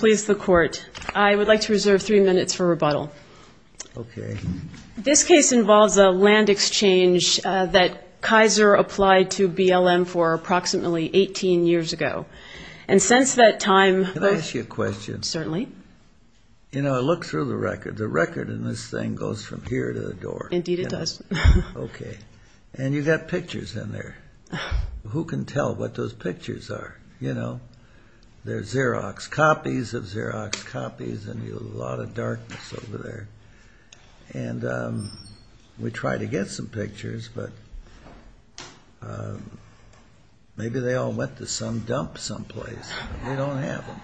I would like to reserve three minutes for rebuttal. This case involves a land exchange that Kaiser applied to BLM for approximately 18 years ago. Can I ask you a question? Certainly. Look through the record. The record in this thing goes from here to the door. Indeed it does. And you've got pictures in there. Who can tell what those pictures are? They're Xerox copies of Xerox copies, and there's a lot of darkness over there. And we tried to get some pictures, but maybe they all went to some dump someplace. We don't have them.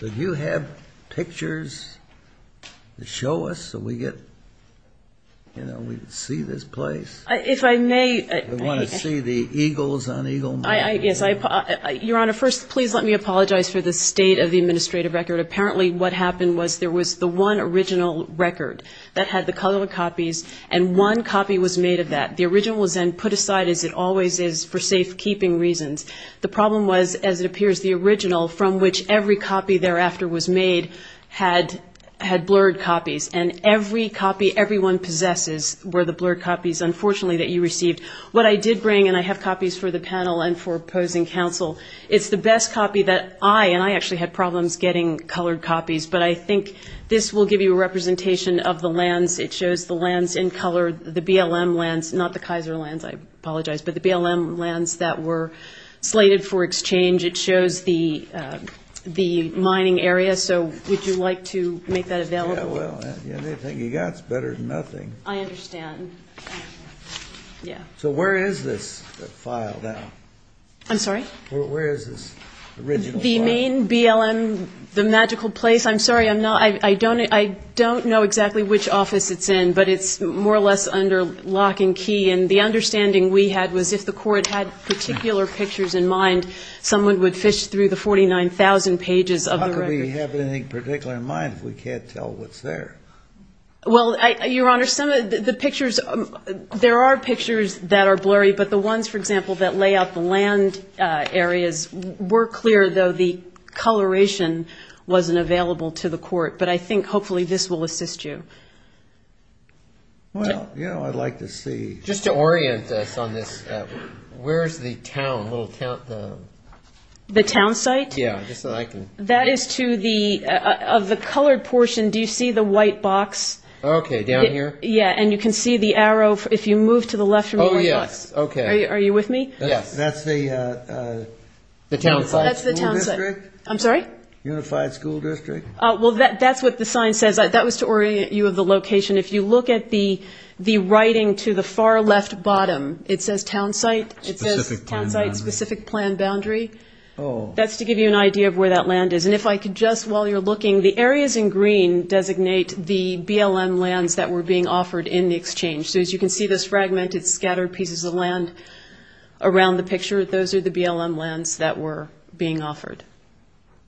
Do you have pictures to show us so we can see this place? If I may... You want to see the eagles on Eagle Mtn? Your Honor, first, please let me apologize for the state of the administrative record. Apparently what happened was there was the one original record that had the color copies, and one copy was made of that. The original was then put aside, as it always is, for safekeeping reasons. The problem was, as it appears, the original, from which every copy thereafter was made, had blurred copies. And every copy everyone possesses were the blurred copies, unfortunately, that you received. What I did bring, and I have copies for the panel and for opposing counsel, it's the best copy that I, and I actually had problems getting colored copies, but I think this will give you a representation of the lands. It shows the lands in color, the BLM lands, not the Kaiser lands, I apologize, but the BLM lands that were slated for exchange. It shows the mining area, so would you like to make that available? You gots better than nothing. I understand, yeah. So where is this file now? I'm sorry? Where is this original file? The main BLM, the magical place, I'm sorry, I don't know exactly which office it's in, but it's more or less under lock and key, and the understanding we had was if the court had particular pictures in mind, someone would fish through the 49,000 pages of the record. How could we have anything particular in mind if we can't tell what's there? Well, Your Honor, some of the pictures, there are pictures that are blurry, but the ones, for example, that lay out the land areas were clear, though the coloration wasn't available to the court, but I think hopefully this will assist you. Well, yeah, I'd like to see. Just to orient us on this, where's the town, little town? The town site? Yeah, just so I can. That is to the, of the colored portion, do you see the white box? Okay, down here. Yeah, and you can see the arrow, if you move to the left. Oh, yeah, okay. Are you with me? Yeah, that's the town site. That's the town site. I'm sorry? Unified School District. Well, that's what the sign says. That was to orient you of the location. If you look at the writing to the far left bottom, it says town site. It says town site specific plan boundary. That's to give you an idea of where that land is. And if I could just, while you're looking, the areas in green designate the BLM lands that were being offered in the exchange. So, as you can see, those fragmented scattered pieces of land around the pictures, those are the BLM lands that were being offered.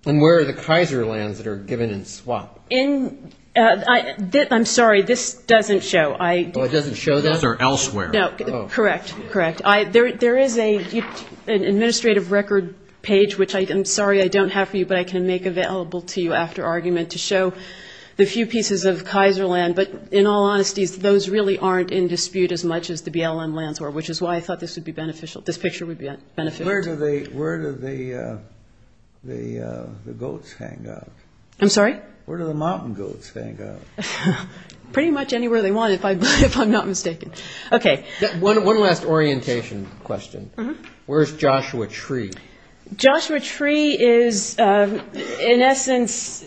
And where are the Kaiser lands that are given in swap? I'm sorry, this doesn't show. It doesn't show that? Those are elsewhere. No, correct, correct. There is an administrative record page, which I'm sorry I don't have for you, but I can make available to you after argument to show the few pieces of Kaiser land. But, in all honesty, those really aren't in dispute as much as the BLM lands are, which is why I thought this picture would be beneficial. Where do the goats hang out? I'm sorry? Where do the mountain goats hang out? Pretty much anywhere they want, if I'm not mistaken. One last orientation question. Where's Joshua Tree? Joshua Tree is, in essence,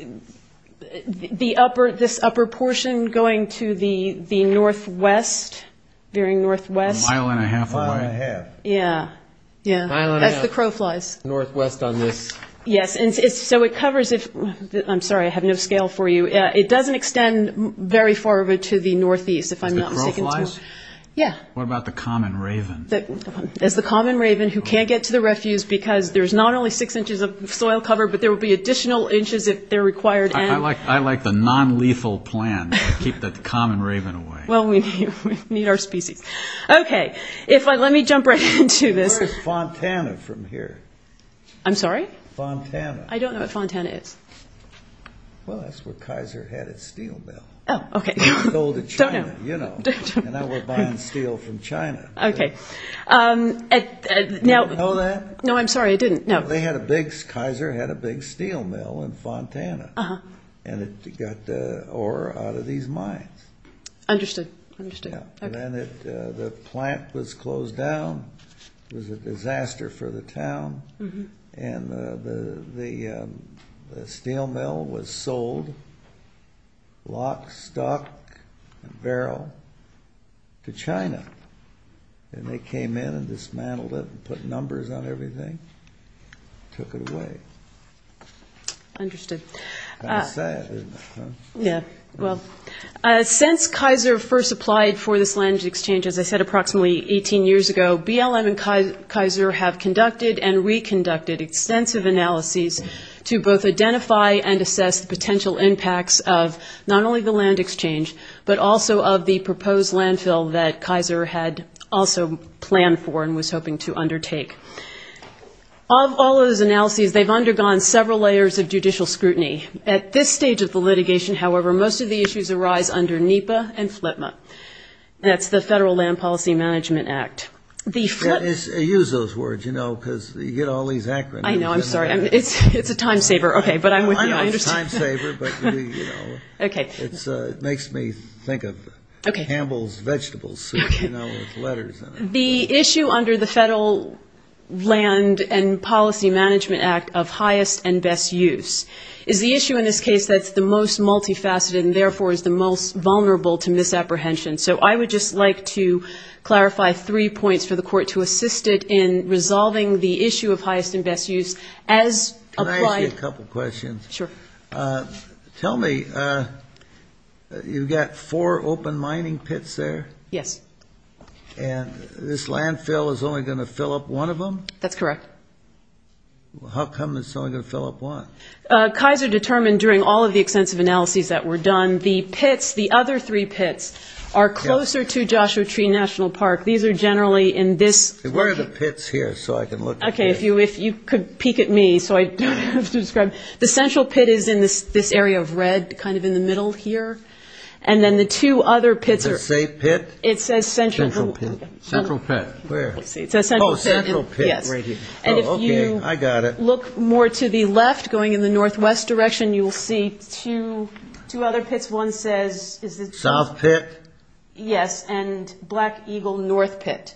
this upper portion going to the northwest, very northwest. A mile and a half away. A mile and a half. Yeah, yeah. That's the crow flies. Northwest on this. Yes, and so it covers, I'm sorry, I have no scale for you. It doesn't extend very far over to the northeast, if I'm not mistaken. What about the common raven? That's the common raven who can't get to the refuse because there's not only six inches of soil cover, but there will be additional inches if they're required. I like the non-lethal plan to keep the common raven away. Well, we need our species. Okay, let me jump right into this. Where's Fontana from here? I'm sorry? Fontana. I don't know what Fontana is. Well, that's where Kaiser had its steel mill. Oh, okay. And I was buying steel from China. Okay. You didn't know that? No, I'm sorry, I didn't. Kaiser had a big steel mill in Fontana, and it got the ore out of these mines. Understood, understood. And then the plant was closed down. It was a disaster for the town. And the steel mill was sold, lock, stock, barrel, to China. And they came in and dismantled it and put numbers on everything and took it away. Understood. Not bad, is it? Yeah, well, since Kaiser first applied for this land exchange, as I said, approximately 18 years ago, BLM and Kaiser have conducted and reconducted extensive analyses to both identify and assess the potential impacts of not only the land exchange, but also of the proposed landfill that Kaiser had also planned for and was hoping to undertake. Of all of those analyses, they've undergone several layers of judicial scrutiny. At this stage of the litigation, however, most of the issues arise under NEPA and FLIPMA. That's the Federal Land Policy Management Act. Use those words, you know, because you get all these acronyms. I know, I'm sorry. It's a time saver. Okay, but I'm with you. It's a time saver, but it makes me think of Campbell's vegetable soup, you know, with letters on it. The issue under the Federal Land and Policy Management Act of highest and best use is the issue in this case that's the most multifaceted and therefore is the most vulnerable to misapprehension. So I would just like to clarify three points for the court to assist it in resolving the issue of highest and best use. Can I ask you a couple questions? Sure. Tell me, you've got four open mining pits there? Yes. Okay. And this landfill is only going to fill up one of them? That's correct. How come it's only going to fill up one? Kaiser determined during all of the extensive analyses that were done, the pits, the other three pits, are closer to Joshua Tree National Park. These are generally in this. Where are the pits here so I can look? Okay, if you could peek at me so I don't have to describe. The central pit is in this area of red, kind of in the middle here. And then the two other pits are. Did I say pit? It says central. Central pit. Central pit. Where? Oh, central pit right here. Oh, okay, I got it. And if you look more to the left, going in the northwest direction, you'll see two other pits. One says, is it south? South pit. Yes, and Black Eagle North Pit.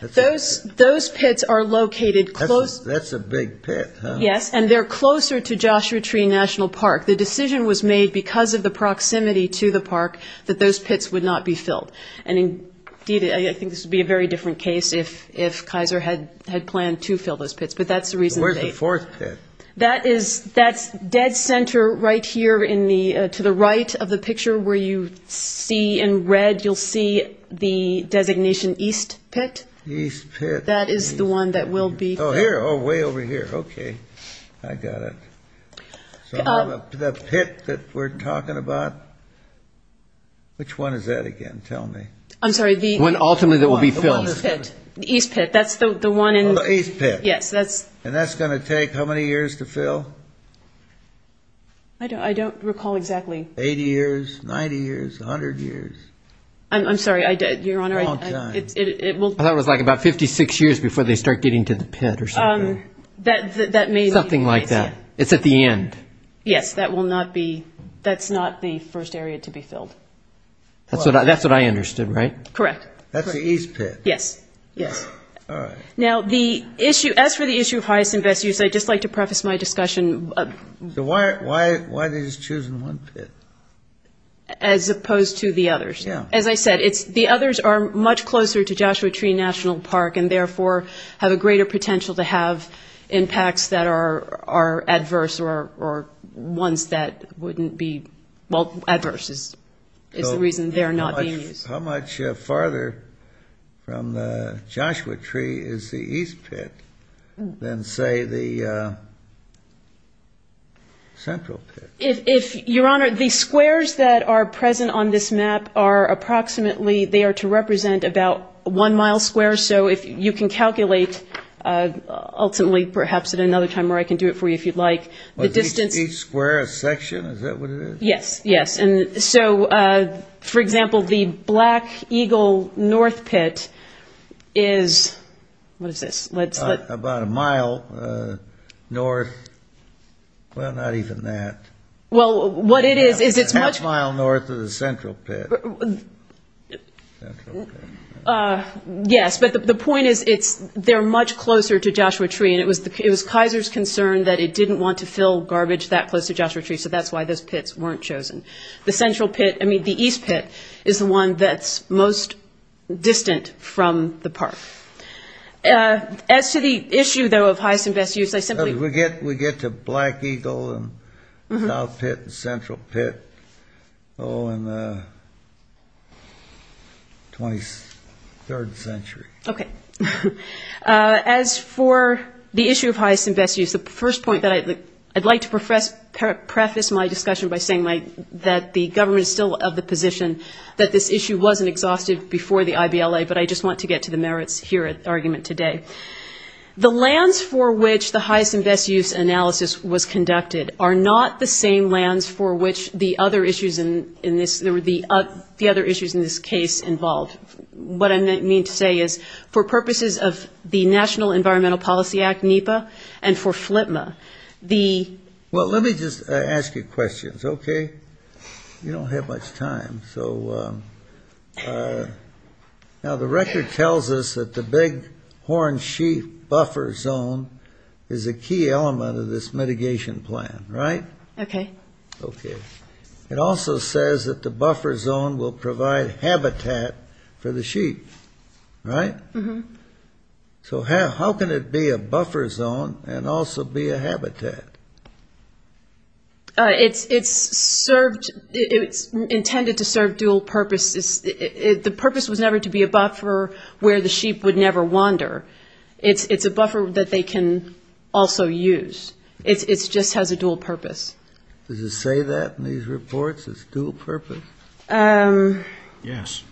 Those pits are located close. That's a big pit, huh? Yes, and they're closer to Joshua Tree National Park. The decision was made because of the proximity to the park that those pits would not be filled. And indeed, I think this would be a very different case if Kaiser had planned to fill those pits. But that's the reason. Where's the fourth pit? That's dead center right here to the right of the picture where you see in red, you'll see the designation East Pit. East Pit. That is the one that will be. Oh, here. Oh, way over here. Okay, I got it. The pit that we're talking about, which one is that again? Tell me. I'm sorry. The one ultimately that will be filled. That's the one in. Oh, the East Pit. Yes, that's. And that's going to take how many years to fill? I don't recall exactly. 80 years, 90 years, 100 years? I'm sorry. Your Honor, it will. I thought it was like about 56 years before they start getting to the pit or something. That may. Something like that. It's at the end. Yes, that will not be. That's not the first area to be filled. That's what I understood, right? Correct. That's the East Pit. Yes. Yes. All right. Now the issue, as for the issue of highest and best use, I'd just like to preface my discussion. So why did you choose one pit? As opposed to the others. Yeah. As I said, the others are much closer to Joshua Tree National Park and therefore have a greater potential to have impacts that are adverse or ones that wouldn't be, well, adverse. It's the reason they're not being used. How much farther from the Joshua Tree is the East Pit than, say, the Central Pit? Your Honor, the squares that are present on this map are approximately, they are to represent about one mile square. So you can calculate, ultimately, perhaps at another time where I can do it for you if you'd like. Each square a section? Is that what it is? Yes. Yes. So, for example, the Black Eagle North Pit is, what is this? About a mile north. Well, not even that. Well, what it is, is it much- Half a mile north of the Central Pit. Central Pit. Yes, but the point is they're much closer to Joshua Tree and it was Kaiser's concern that it didn't want to fill garbage that close to Joshua Tree, so that's why those pits weren't chosen. The Central Pit, I mean the East Pit, is the one that's most distant from the park. As to the issue, though, of highest and best use, I simply- We get to Black Eagle and South Pit and Central Pit in the 23rd century. Okay. As for the issue of highest and best use, the first point that I'd like to preface my discussion by saying that the government is still of the position that this issue wasn't exhaustive before the IVLA, but I just want to get to the merits here of the argument today. The lands for which the highest and best use analysis was conducted are not the same lands for which the other issues in this case involved. What I mean to say is, for purposes of the National Environmental Policy Act, NEPA, and for FLIPMA, the- Well, let me just ask you questions, okay? You don't have much time. So, now the record tells us that the Big Horn Sheaf buffer zone is a key element of this mitigation plan, right? Okay. Okay. It also says that the buffer zone will provide habitat for the sheaf, right? Mm-hmm. So how can it be a buffer zone and also be a habitat? It's intended to serve dual purposes. The purpose was never to be a buffer where the sheep would never wander. It's a buffer that they can also use. It just has a dual purpose. Does it say that in these reports, it's dual purpose? Yes.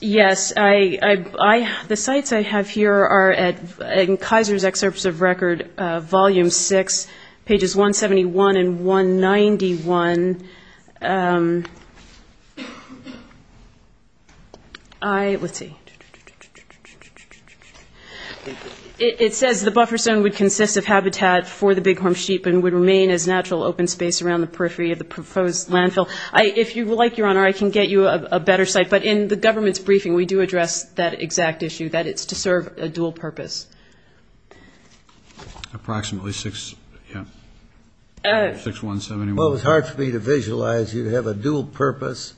Yes. The sites I have here are in Kaiser's Excerpts of Record, Volume 6, pages 171 and 191. It says the buffer zone would consist of habitat for the Big Horn Sheep and would remain as natural open space around the periphery of the proposed landfill. If you like, Your Honor, I can get you a better site, but in the government's briefing, we do address that exact issue, that it's to serve a dual purpose. Approximately 6171. Well, it's hard for me to visualize. You'd have a dual purpose.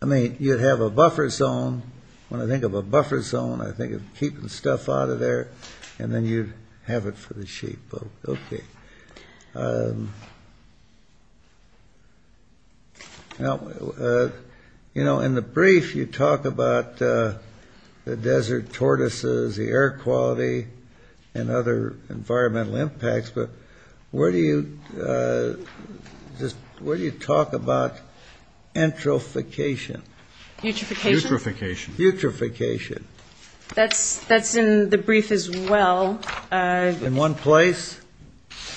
I mean, you'd have a buffer zone. When I think of a buffer zone, I think of keeping stuff out of there, and then you'd have it for the sheep. OK. In the brief, you talk about the desert tortoises, the air quality, and other environmental impacts. But where do you talk about entralfication? Butrification? Butrification. Butrification. That's in the brief as well. In one place?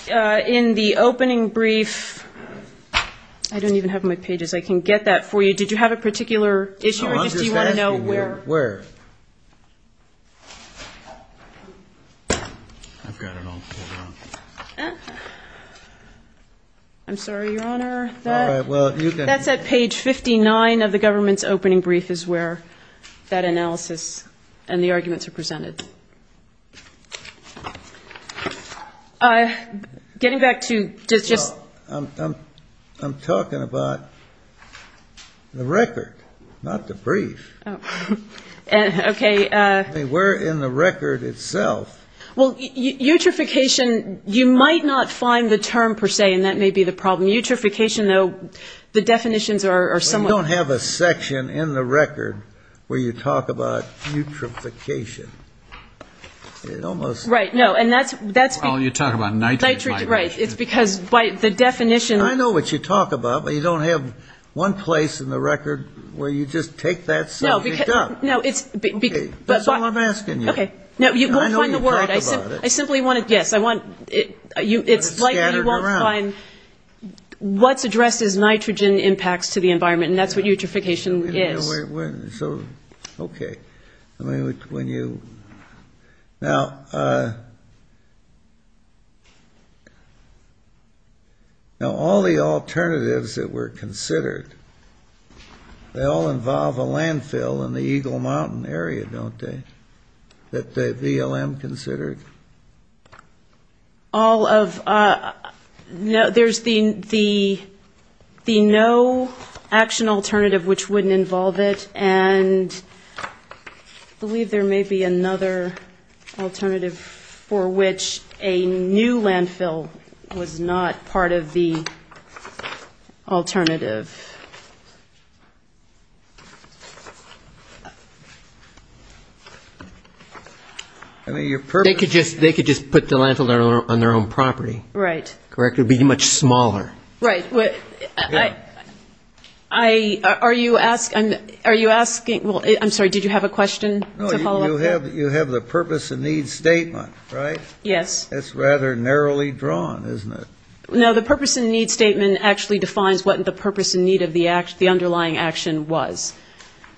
In the opening brief. I don't even have my pages. I can get that for you. Did you have a particular issue, or do you want to know where? Where? I'm sorry, Your Honor. That's at page 59 of the government's opening brief, is where that analysis and the arguments are presented. Getting back to... I'm talking about the record, not the brief. OK. We're in the record itself. Well, eutrophication, you might not find the term per se, and that may be the problem. In eutrophication, though, the definitions are somewhat... You don't have a section in the record where you talk about eutrophication. It almost... Right. No, and that's... Oh, you're talking about nitrification. Nitrification, right. It's because by the definition... I know what you talk about, but you don't have one place in the record where you just take that subject up. No, it's... That's all I'm asking you. OK. No, you won't find the word. I know you talk about it. I simply want to... Yes, I want... It's likely you won't find what addresses nitrogen impacts to the environment, and that's what eutrophication is. So, OK. I mean, when you... Now, all the alternatives that were considered, they all involve a landfill in the Eagle Mountain area, don't they, that the ELM considered? All of... There's the no action alternative, which wouldn't involve it, and I believe there may be another alternative for which a new landfill was not part of the alternative. I mean, your purpose... They could just put the landfill on their own property. Right. Correct. It would be much smaller. Right. Are you asking... I'm sorry, did you have a question to follow up with? No, you have the purpose and need statement, right? Yes. That's rather narrowly drawn, isn't it? No, the purpose and need statement actually defines what the purpose and need of the underlying action was,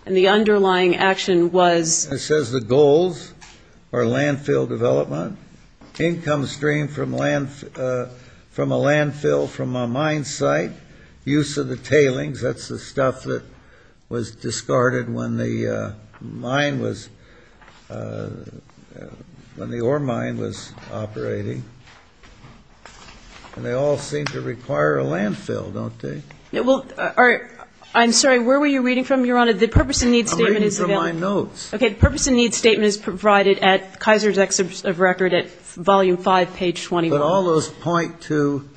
and the underlying action was... It says the goals are landfill development, income stream from a landfill from a mine site, use of the tailings. That's the stuff that was discarded when the ore mine was operating. They all seem to require a landfill, don't they? I'm sorry, where were you reading from, Your Honor? The purpose and need statement is... I'm reading from my notes. Okay, the purpose and need statement is provided at Kaiser's Exhibit of Record at Volume 5, page 21. But all those point to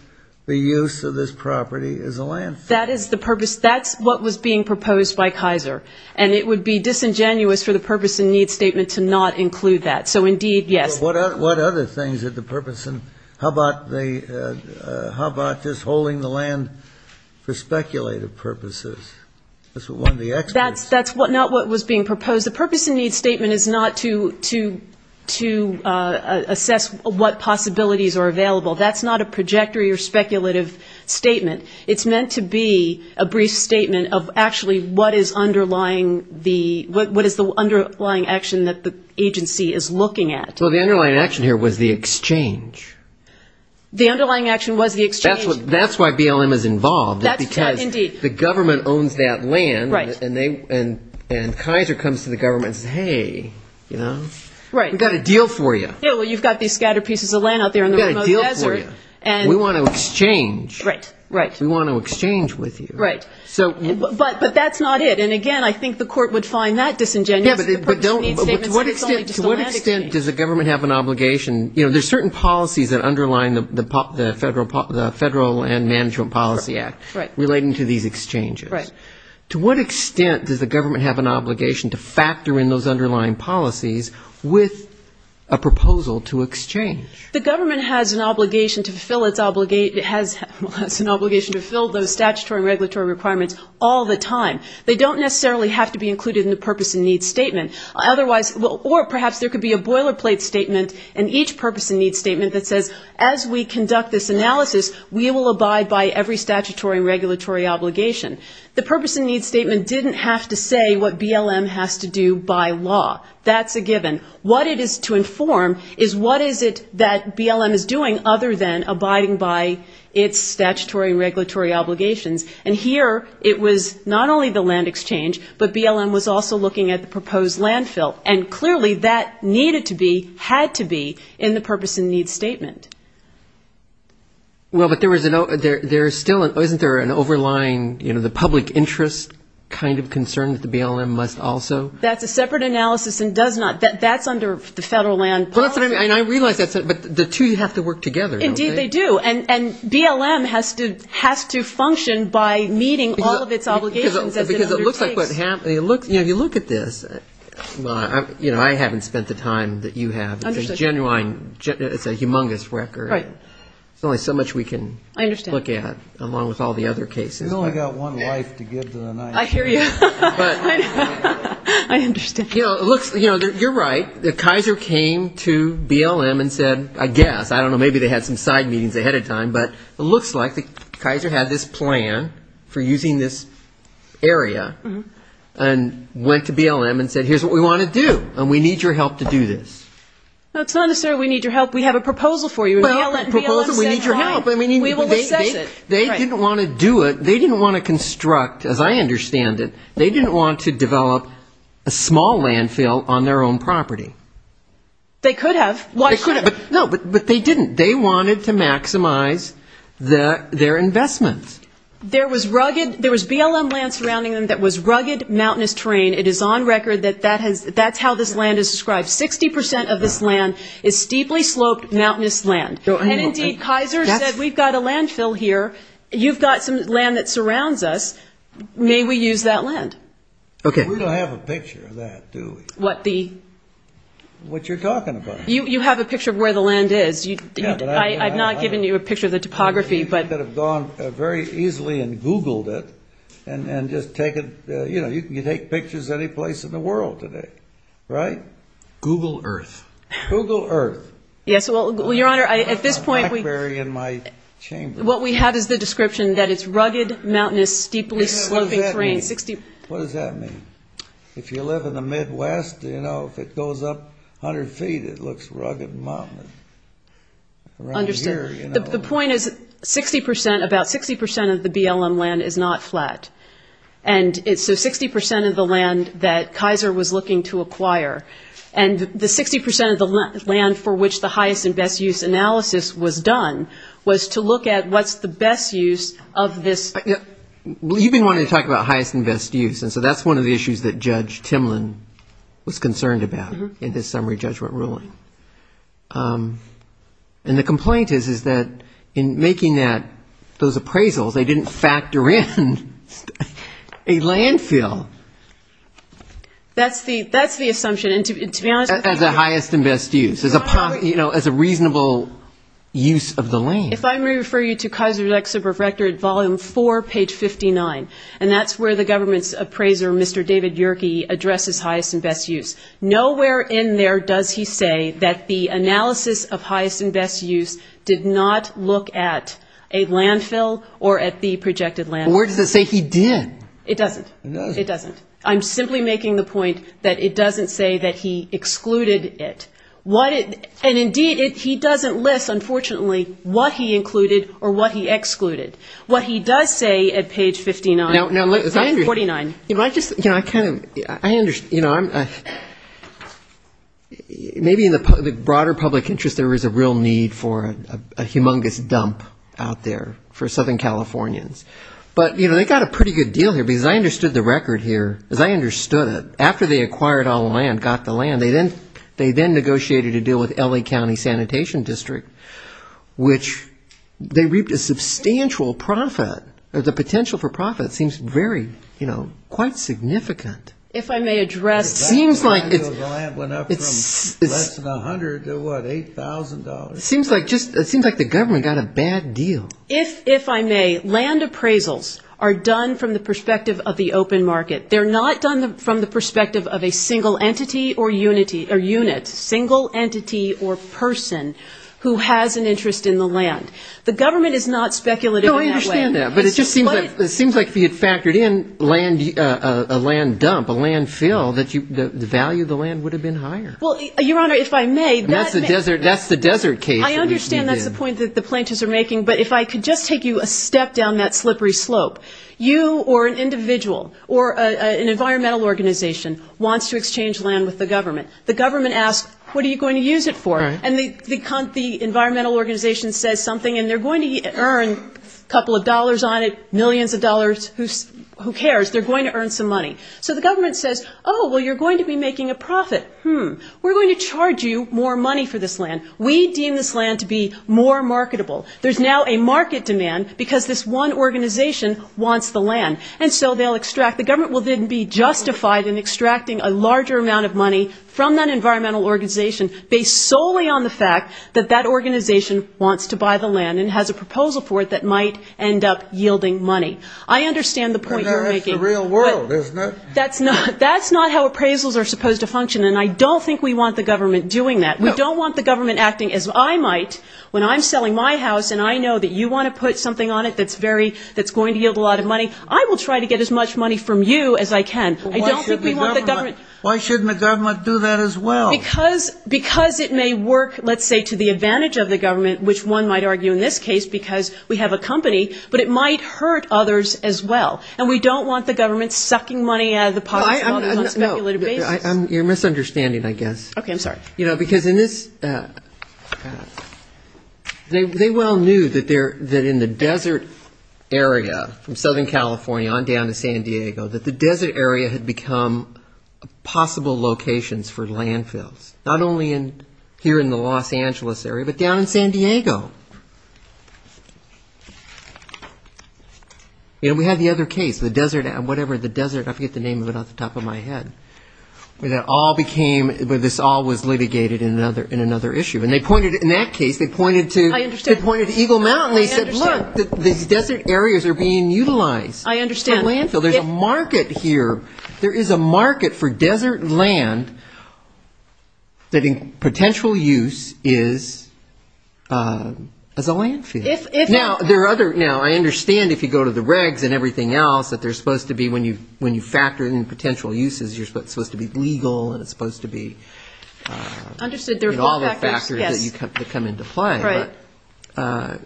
the use of this property as a landfill. That is the purpose. That's what was being proposed by Kaiser, and it would be disingenuous for the purpose and need statement to not include that. So, indeed, yes. What other things are the purpose and... How about just holding the land for speculative purposes? That's not what was being proposed. The purpose and need statement is not to assess what possibilities are available. That's not a projectory or speculative statement. It's meant to be a brief statement of actually what is the underlying action that the agency is looking at. Well, the underlying action here was the exchange. The underlying action was the exchange. That's why BLM is involved, because the government owns that land, and Kaiser comes to the government and says, hey, you know, we've got a deal for you. Yeah, well, you've got these scattered pieces of land out there. We've got a deal for you. And... We want to exchange. Right. We want to exchange with you. Right. But that's not it. And, again, I think the court would find that disingenuous. To what extent does the government have an obligation? You know, there's certain policies that underline the Federal Land Management Policy Act relating to these exchanges. Right. To what extent does the government have an obligation to factor in those underlying policies with a proposal to exchange? The government has an obligation to fulfill those statutory regulatory requirements all the time. They don't necessarily have to be included in the purpose and needs statement. Otherwise, or perhaps there could be a boilerplate statement in each purpose and needs statement that says, as we conduct this analysis, we will abide by every statutory and regulatory obligation. The purpose and needs statement didn't have to say what BLM has to do by law. That's a given. What it is to inform is what is it that BLM is doing other than abiding by its statutory and regulatory obligations. And, here, it was not only the land exchange, but BLM was also looking at the proposed landfill. And, clearly, that needed to be, had to be, in the purpose and needs statement. Well, but there is still, isn't there an overlying, you know, the public interest kind of concern that the BLM must also? That's a separate analysis and does not, that's under the Federal Land. And I realize that, but the two have to work together. Indeed, they do. And BLM has to function by meeting all of its obligations. Because it looks like, you know, you look at this, you know, I haven't spent the time that you have. It's a humongous record. Right. There's only so much we can look at. I understand. Along with all the other cases. You've only got one life to give to the United States. I hear you. But. I understand. You know, look, you're right. Kaiser came to BLM and said, I guess, I don't know, maybe they had some side meetings ahead of time. But it looks like Kaiser had this plan for using this area. And went to BLM and said, here's what we want to do. And we need your help to do this. Now, it's not necessarily we need your help. We have a proposal for you. A proposal? We need your help. They didn't want to do it. They didn't want to construct, as I understand it, they didn't want to develop a small landfill on their own property. They could have. They could have. No, but they didn't. They wanted to maximize their investments. There was rugged, there was BLM land surrounding them that was rugged, mountainous terrain. It is on record that that's how this land is described. 60% of this land is steeply sloped, mountainous land. And indeed, Kaiser said, we've got a landfill here. You've got some land that surrounds us. May we use that land? Okay. We don't have a picture of that, do we? What you're talking about. You have a picture of where the land is. I've not given you a picture of the topography. You could have gone very easily and Googled it and just taken, you know, you can take pictures of any place in the world today. Right? Google Earth. Google Earth. Yes, well, Your Honor, at this point, what we have is the description that it's rugged, mountainous, steeply sloping terrain. What does that mean? If you live in the Midwest, you know, if it goes up 100 feet, it looks rugged and mountainous. Understood. The point is 60%, about 60% of the BLM land is not flat. And it's the 60% of the land that Kaiser was looking to acquire. And the 60% of the land for which the highest and best use analysis was done was to look at what's the best use of this. You've been wanting to talk about highest and best use. And so that's one of the issues that Judge Timlin was concerned about in the summary judgment ruling. And the complaint is that in making that, those appraisals, they didn't factor in a landfill. That's the assumption. As a highest and best use. You know, as a reasonable use of the land. If I may refer you to Kaiser Lexus Rectory, Volume 4, Page 59. And that's where the government's appraiser, Mr. David Yerke, addresses highest and best use. Nowhere in there does he say that the analysis of highest and best use did not look at a landfill or at the projected landfill. Where does it say he didn't? It doesn't. It doesn't. I'm simply making the point that it doesn't say that he excluded it. And indeed, he doesn't list, unfortunately, what he included or what he excluded. What he does say at Page 59. Maybe in the broader public interest there was a real need for a humongous dump out there for Southern Californians. But, you know, they got a pretty good deal here because I understood the record here. Because I understood it. After they acquired all the land, got the land, they then negotiated a deal with L.A. County Sanitation District, which they reaped a substantial profit. There's a potential for profit. It seems very, you know, quite significant. It seems like the government got a bad deal. If I may, land appraisals are done from the perspective of the open market. They're not done from the perspective of a single entity or unit. Single entity or person who has an interest in the land. The government is not speculative in that way. I understand that. But it just seems like if you factored in a land dump, a landfill, the value of the land would have been higher. Well, Your Honor, if I may. That's the desert case. I understand that's the point that the planters are making. But if I could just take you a step down that slippery slope. You or an individual or an environmental organization wants to exchange land with the government. The government asks, what are you going to use it for? And the environmental organization says something. And they're going to earn a couple of dollars on it, millions of dollars. Who cares? They're going to earn some money. So the government says, oh, well, you're going to be making a profit. We're going to charge you more money for this land. We deem this land to be more marketable. There's now a market demand because this one organization wants the land. And so they'll extract. The government will then be justified in extracting a larger amount of money from that environmental organization based solely on the fact that that organization wants to buy the land and has a proposal for it that might end up yielding money. I understand the point you're making. But that's the real world, isn't it? That's not how appraisals are supposed to function. And I don't think we want the government doing that. We don't want the government acting as I might when I'm selling my house and I know that you want to put something on it that's going to yield a lot of money. I will try to get as much money from you as I can. I don't think we want the government. Why shouldn't the government do that as well? Because it may work, let's say, to the advantage of the government, which one might argue in this case because we have a company, but it might hurt others as well. And we don't want the government sucking money out of the pocket. You're misunderstanding, I guess. Okay, I'm sorry. You know, because in this, they well knew that in the desert area from Southern California on down to San Diego, that the desert area had become possible locations for landfills. Not only here in the Los Angeles area, but down in San Diego. You know, we had the other case, the desert, whatever, the desert, I forget the name, it went off the top of my head. That all became, this all was litigated in another issue. And they pointed, in that case, they pointed to Eagle Mountain. They said, look, these desert areas are being utilized. I understand. There's a market here. There is a market for desert land that in potential use is a landfill. Now, there are other, you know, I understand if you go to the regs and everything else, that there's supposed to be when you factor in potential uses, you're supposed to be legal, and it's supposed to be all the factors that come into play. Right.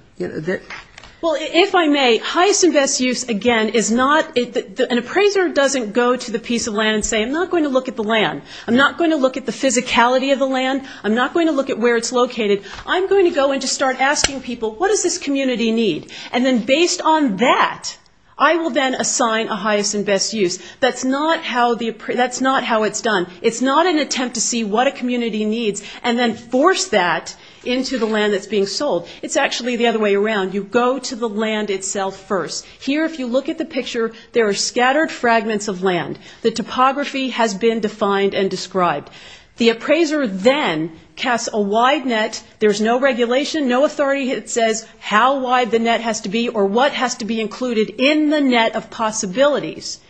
Well, if I may, highest and best use, again, is not, an appraiser doesn't go to the piece of land and say, I'm not going to look at the land. I'm not going to look at the physicality of the land. I'm not going to look at where it's located. I'm going to go and just start asking people, what does this community need? And then based on that, I will then assign a highest and best use. That's not how the, that's not how it's done. It's not an attempt to see what a community needs and then force that into the land that's being sold. It's actually the other way around. You go to the land itself first. Here, if you look at the picture, there are scattered fragments of land. The topography has been defined and described. The appraiser then casts a wide net. There's no regulation, no authority that says how wide the net has to be or what has to be included in the net of possibilities.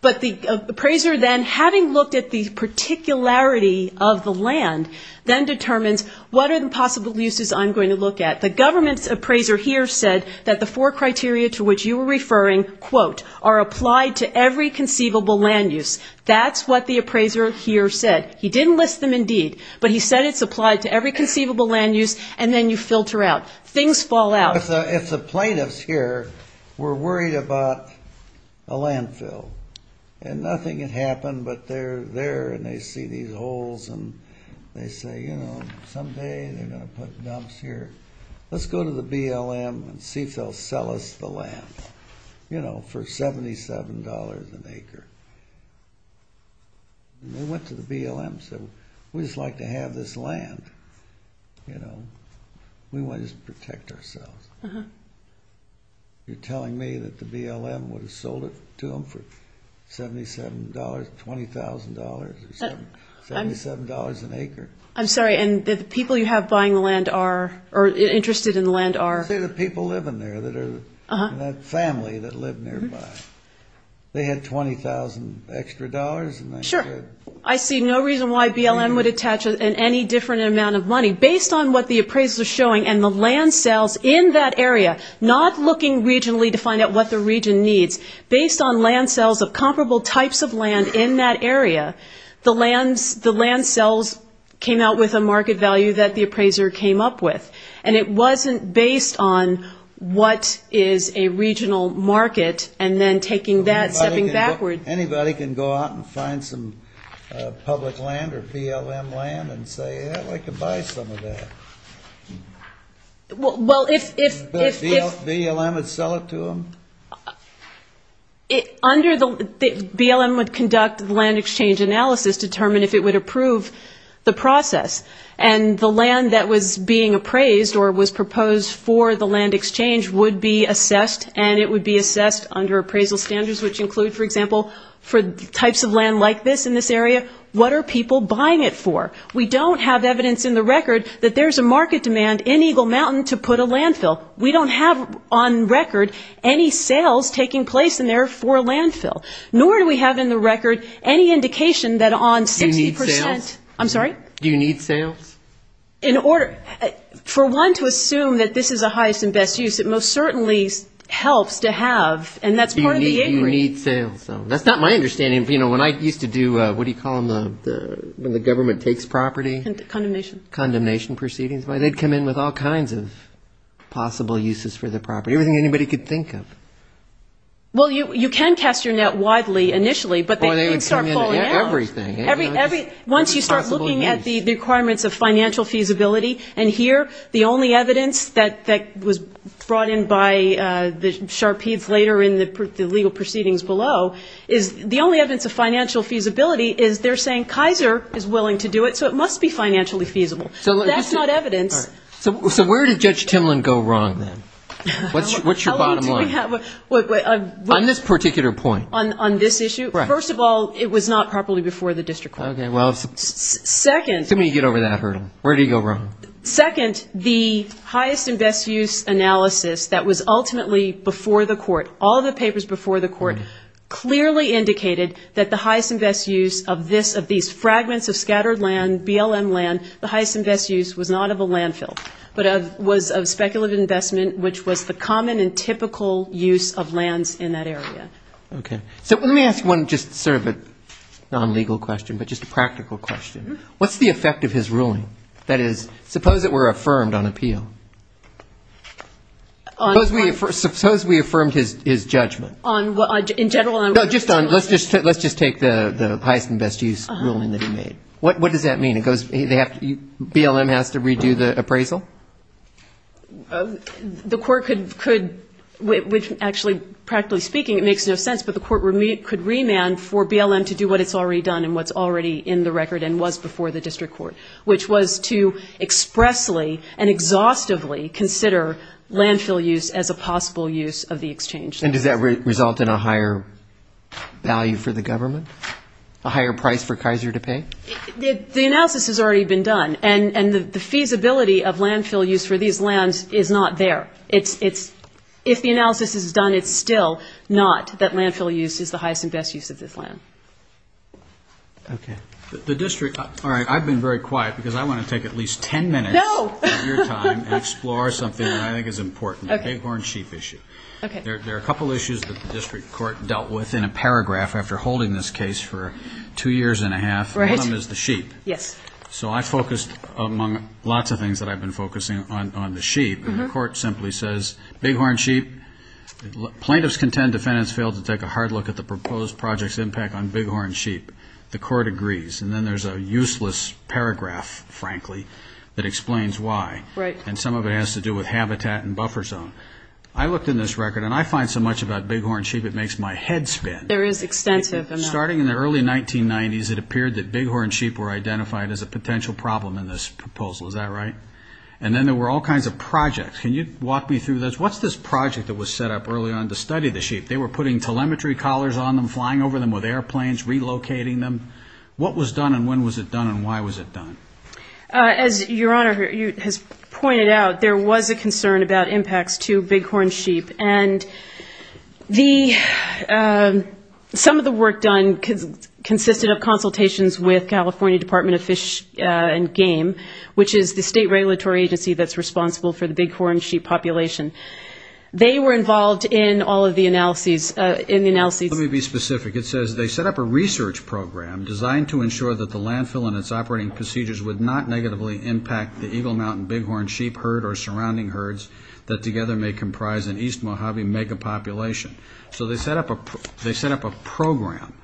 But the appraiser then, having looked at the particularity of the land, then determines what impossible uses I'm going to look at. The government's appraiser here said that the four criteria to which you were referring, quote, are applied to every conceivable land use. That's what the appraiser here said. He didn't list them in deed, but he said it's applied to every conceivable land use and then you filter out. Things fall out. If the plaintiffs here were worried about a landfill and nothing had happened but they're there and they see these holes and they say, you know, someday they're going to put dumps here. Let's go to the BLM and see if they'll sell us the land, you know, for $77 an acre. We went to the BLM and said, we'd just like to have this land, you know. We want to just protect ourselves. You're telling me that the BLM would have sold it to them for $77, $20,000? $77 an acre. I'm sorry, and the people you have buying the land are interested in the land are? They're the people living there that are in that family that live nearby. They had $20,000 extra dollars? Sure. I see no reason why BLM would attach any different amount of money. Based on what the appraiser is showing and the land sales in that area, not looking regionally to find out what the region needs. Based on land sales of comparable types of land in that area, the land sales came out with a market value that the appraiser came up with. And it wasn't based on what is a regional market and then taking that and stepping backwards. Anybody can go out and find some public land or BLM land and say, yeah, we can buy some of that. BLM would sell it to them? BLM would conduct a land exchange analysis to determine if it would approve the process. And the land that was being appraised or was proposed for the land exchange would be assessed. And it would be assessed under appraisal standards which include, for example, for types of land like this in this area, what are people buying it for? We don't have evidence in the record that there's a market demand in Eagle Mountain to put a landfill. We don't have on record any sales taking place in there for a landfill. Nor do we have in the record any indication that on 60%- Do you need sales? I'm sorry? Do you need sales? In order- for one to assume that this is the highest and best use, it most certainly helps to have- Do you need sales? That's not my understanding. You know, when I used to do, what do you call them, when the government takes property? Condemnation. Condemnation proceedings. They'd come in with all kinds of possible uses for the property. Everything anybody could think of. Well, you can test your net widely initially, but- Once you start looking at the requirements of financial feasibility, and here, the only evidence that was brought in by Sharpeve later in the legal proceedings below, the only evidence of financial feasibility is they're saying Kaiser is willing to do it, so it must be financially feasible. That's not evidence. So where did Judge Timlin go wrong then? What's your bottom line? On this particular point. On this issue? First of all, it was not properly before the district court. Okay. Well, let me get over that hurdle. Where did he go wrong? Second, the highest and best use analysis that was ultimately before the court, all the papers before the court, clearly indicated that the highest and best use of these fragments of scattered land, BLM land, the highest and best use was not of a landfill, but was of speculative investment, which was the common and typical use of land in that area. Okay. So let me ask one just sort of a non-legal question, but just a practical question. What's the effect of his ruling? That is, suppose it were affirmed on appeal. Suppose we affirmed his judgment. On what? In general? No, just on, let's just take the highest and best use ruling that he made. What does that mean? BLM has to redo the appraisal? The court could, which actually, practically speaking, it makes no sense, but the court could remand for BLM to do what it's already done and what's already in the record and was before the district court, which was to expressly and exhaustively consider landfill use as a possible use of the exchange. And did that result in a higher value for the government, a higher price for Kaiser to pay? The analysis has already been done, and the feasibility of landfill use for these lands is not there. If the analysis is done, it's still not that landfill use is the highest and best use of this land. Okay. The district, all right, I've been very quiet because I want to take at least ten minutes of your time and explore something that I think is important, the gay-born sheep issue. There are a couple of issues that the district court dealt with in a paragraph after holding this case for two years and a half. Right. One of them is the sheep. Yes. So I focused among lots of things that I've been focusing on the sheep, and the court simply says big horn sheep, plaintiffs contend defendants failed to take a hard look at the proposed project's impact on big horn sheep. The court agrees. And then there's a useless paragraph, frankly, that explains why. Right. And some of it has to do with habitat and buffer zone. I looked in this record, and I find so much about big horn sheep it makes my head spin. There is extensive enough. Starting in the early 1990s, it appeared that big horn sheep were identified as a potential problem in this proposal. Is that right? And then there were all kinds of projects. Can you walk me through those? What's this project that was set up early on to study the sheep? They were putting telemetry collars on them, flying over them with airplanes, relocating them. What was done, and when was it done, and why was it done? As Your Honor has pointed out, there was a concern about impacts to big horn sheep. And some of the work done consisted of consultations with California Department of Fish and Game, which is the state regulatory agency that's responsible for the big horn sheep population. They were involved in all of the analyses. Let me be specific. It says they set up a research program designed to ensure that the landfill and its operating procedures would not negatively impact the Eagle Mountain big horn sheep herd or surrounding herds that together may comprise an East Mojave mega population. So they set up a program.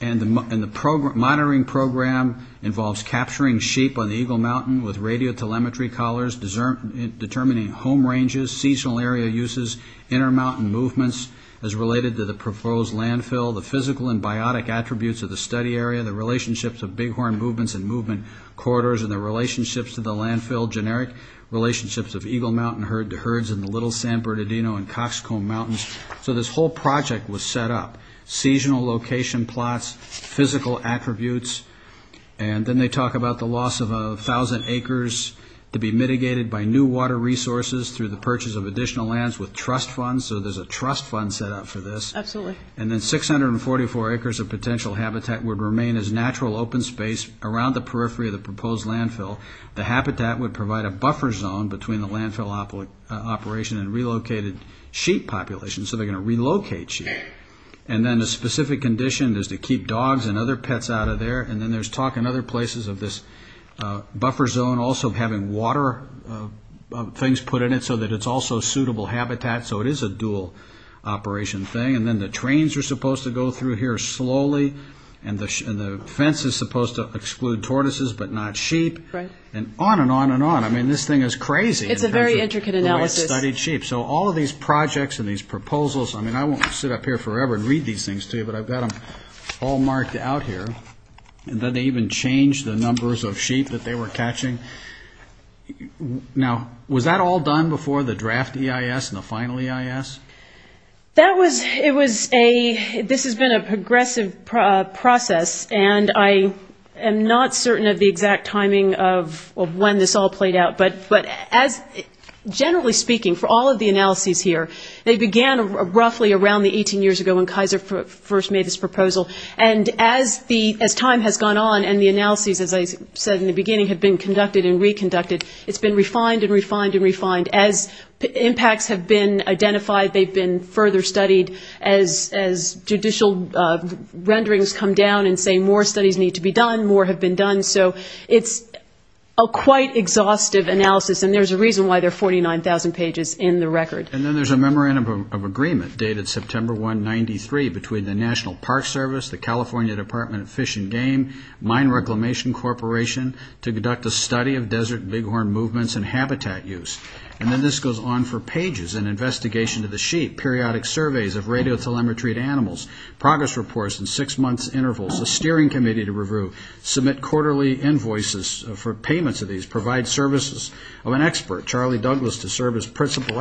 And the monitoring program involves capturing sheep on the Eagle Mountain with radio telemetry collars, determining home ranges, seasonal area uses, inner mountain movements as related to the proposed landfill, the physical and biotic attributes of the study area, the relationships of big horn movements and movement quarters, and the relationships of the landfill, generic relationships of Eagle Mountain herd to herds in the Little San Bernardino and Coxcomb Mountains. So this whole project was set up. Seasonal location plots, physical attributes, and then they talk about the loss of 1,000 acres to be mitigated by new water resources through the purchase of additional lands with trust funds. So there's a trust fund set up for this. Absolutely. And then 644 acres of potential habitat would remain as natural open space around the periphery of the proposed landfill. The habitat would provide a buffer zone between the landfill operation and relocated sheep population. So they're going to relocate sheep. And then a specific condition is to keep dogs and other pets out of there. And then there's talk in other places of this buffer zone also having water things put in it so that it's also suitable habitat. So it is a dual operation thing. And then the trains are supposed to go through here slowly. And the fence is supposed to exclude tortoises but not sheep. Right. And on and on and on. I mean, this thing is crazy. It's a very intricate analysis. So all of these projects and these proposals, I mean, I won't sit up here forever and read these things to you, but I've got them all marked out here. And then they even change the numbers of sheep that they were catching. Now, was that all done before the draft EIS and the final EIS? This has been a progressive process, and I am not certain of the exact timing of when this all played out. But generally speaking, for all of the analyses here, they began roughly around the 18 years ago when Kaiser first made his proposal. And as time has gone on and the analyses, as I said in the beginning, have been conducted and reconducted, it's been refined and refined and refined. As impacts have been identified, they've been further studied. As judicial renderings come down and say more studies need to be done, more have been done. So it's a quite exhaustive analysis, and there's a reason why there are 49,000 pages in the record. And then there's a memorandum of agreement dated September 1, 1993, between the National Park Service, the California Department of Fish and Game, Mine Reclamation Corporation, to conduct a study of desert bighorn movements and habitat use. And then this goes on for pages, an investigation of the sheep, periodic surveys of radio telemetry of animals, progress reports in six-month intervals, a steering committee to review, submit quarterly invoices for payment to these, provide services of an expert, Charlie Douglas, to serve as principal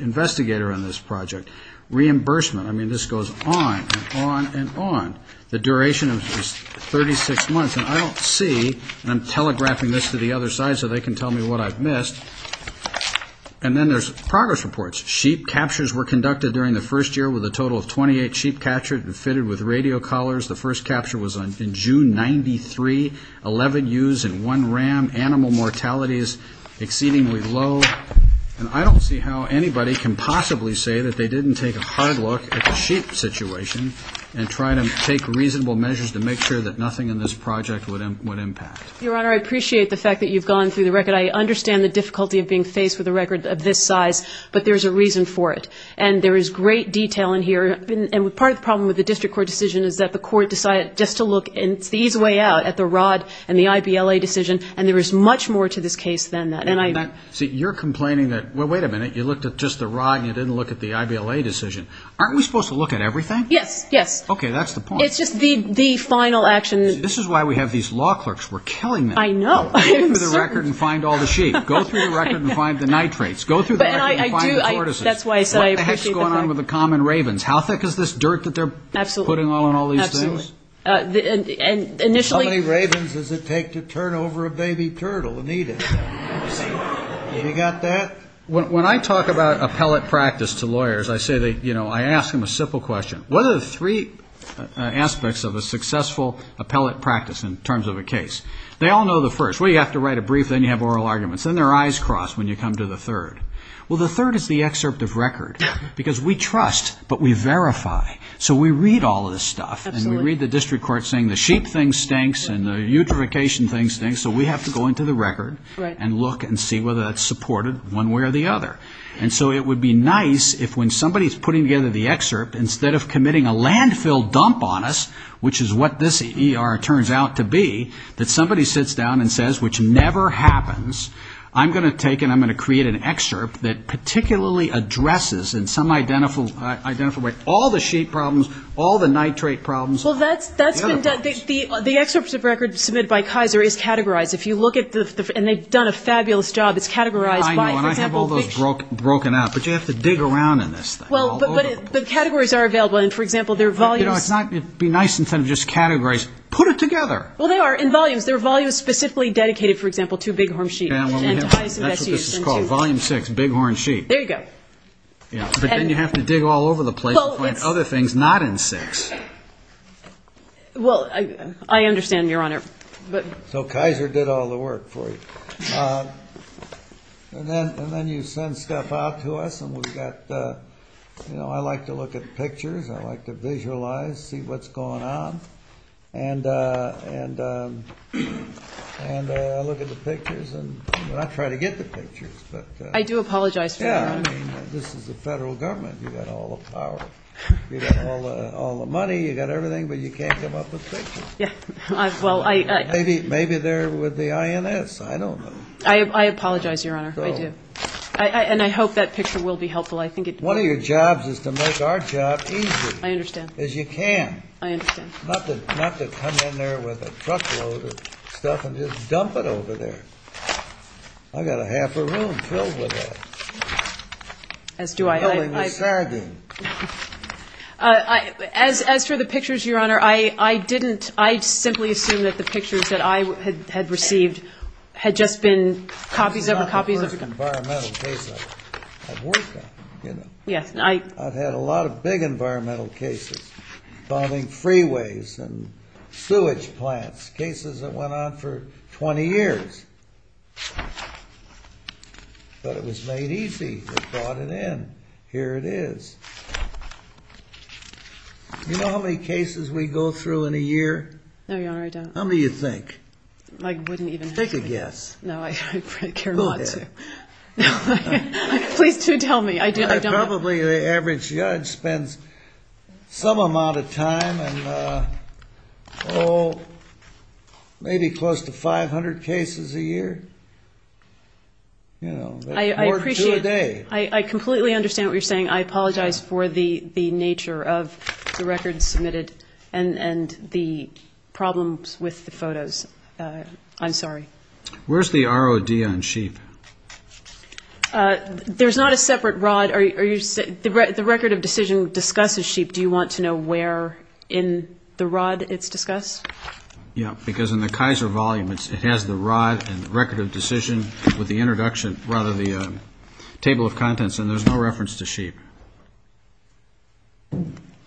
investigator on this project, reimbursement. I mean, this goes on and on and on. The duration of this is 36 months, and I don't see, and I'm telegraphing this to the other side so they can tell me what I've missed. And then there's progress reports. Sheep captures were conducted during the first year with a total of 28 sheep captured and fitted with radio collars. The first capture was in June 93, 11 ewes and one ram. Animal mortality is exceedingly low. And I don't see how anybody can possibly say that they didn't take a hard look at the sheep situation and try to take reasonable measures to make sure that nothing in this project would impact. Your Honor, I appreciate the fact that you've gone through the record. I understand the difficulty of being faced with a record of this size, but there's a reason for it. And there is great detail in here. And part of the problem with the district court decision is that the court decided just to look and see the way out at the rod and the IVLA decision, and there is much more to this case than that. See, you're complaining that, well, wait a minute, you looked at just the rod and you didn't look at the IVLA decision. Aren't we supposed to look at everything? Yes, yes. Okay, that's the point. It's just the final action. This is why we have these law clerks. We're killing them. I know. Go through the record and find all the sheep. Go through the record and find the nitrates. Go through the record and find the tortoises. That's why I said I appreciate the point. What the heck is going on with the common ravens? How thick is this dirt that they're putting on all these ewes? How many ravens does it take to turn over a baby turtle and eat it? Have you got that? When I talk about appellate practice to lawyers, I say that, you know, I ask them a simple question. What are the three aspects of a successful appellate practice in terms of a case? They all know the first. Well, you have to write a brief, then you have oral arguments. Then their eyes cross when you come to the third. Well, the third is the excerpt of record, because we trust, but we verify. So we read all this stuff, and we read the district court saying the sheep thing stinks and the eutrophication thing stinks, so we have to go into the record and look and see whether that's supported one way or the other. And so it would be nice if when somebody's putting together the excerpt, instead of committing a landfill dump on us, which is what this ER turns out to be, that somebody sits down and says, which never happens, I'm going to take and I'm going to create an excerpt that particularly addresses in some identical way all the sheep problems, all the nitrate problems. Well, that's been done. The excerpt of record submitted by Kaiser is categorized. If you look at this, and they've done a fabulous job. It's categorized by, for example. I know, and I have all those broken out, but you have to dig around in this. Well, but categories are available, and, for example, there are volumes. You know, it'd be nice instead of just categories. Put it together. Well, they are in volumes. There are volumes specifically dedicated, for example, to bighorn sheep. That's what this is called, volume six, bighorn sheep. There you go. But then you have to dig all over the place and find other things not in six. Well, I understand, Your Honor. So Kaiser did all the work for you. And then you send stuff out to us, and we've got, you know, I like to look at the pictures. I like to visualize, see what's going on, and I look at the pictures, and I try to get the pictures. I do apologize. Yeah, I mean, this is the federal government. You've got all the power. You've got all the money. You've got everything, but you can't give up the pictures. Maybe they're with the INS. I don't know. I apologize, Your Honor. I do. And I hope that picture will be helpful. One of your jobs is to make our job easier. I understand. As you can. I understand. Not to come in there with a truckload of stuff and just dump it over there. I've got a half a room filled with that. As do I. I don't know what you're talking about. As for the pictures, Your Honor, I didn't. I simply assumed that the pictures that I had received had just been copies of the copies. I've had a lot of big environmental cases, bombing freeways and sewage plants, cases that went on for 20 years. But it was made easy. They brought it in. Here it is. Do you know how many cases we go through in a year? No, Your Honor, I don't. How many do you think? I wouldn't even think. Take a guess. No, I'd care not to. Who did? Please do tell me. I don't know. Probably the average judge spends some amount of time in, oh, maybe close to 500 cases a year. You know, or two a day. I appreciate it. I completely understand what you're saying. I apologize for the nature of the records submitted and the problems with the photos. I'm sorry. Where's the ROD on sheep? There's not a separate rod. The record of decision discusses sheep. Do you want to know where in the rod it's discussed? Yeah, because in the Kaiser volume, it has the rod and the record of decision with the introduction, rather the table of contents, and there's no reference to sheep.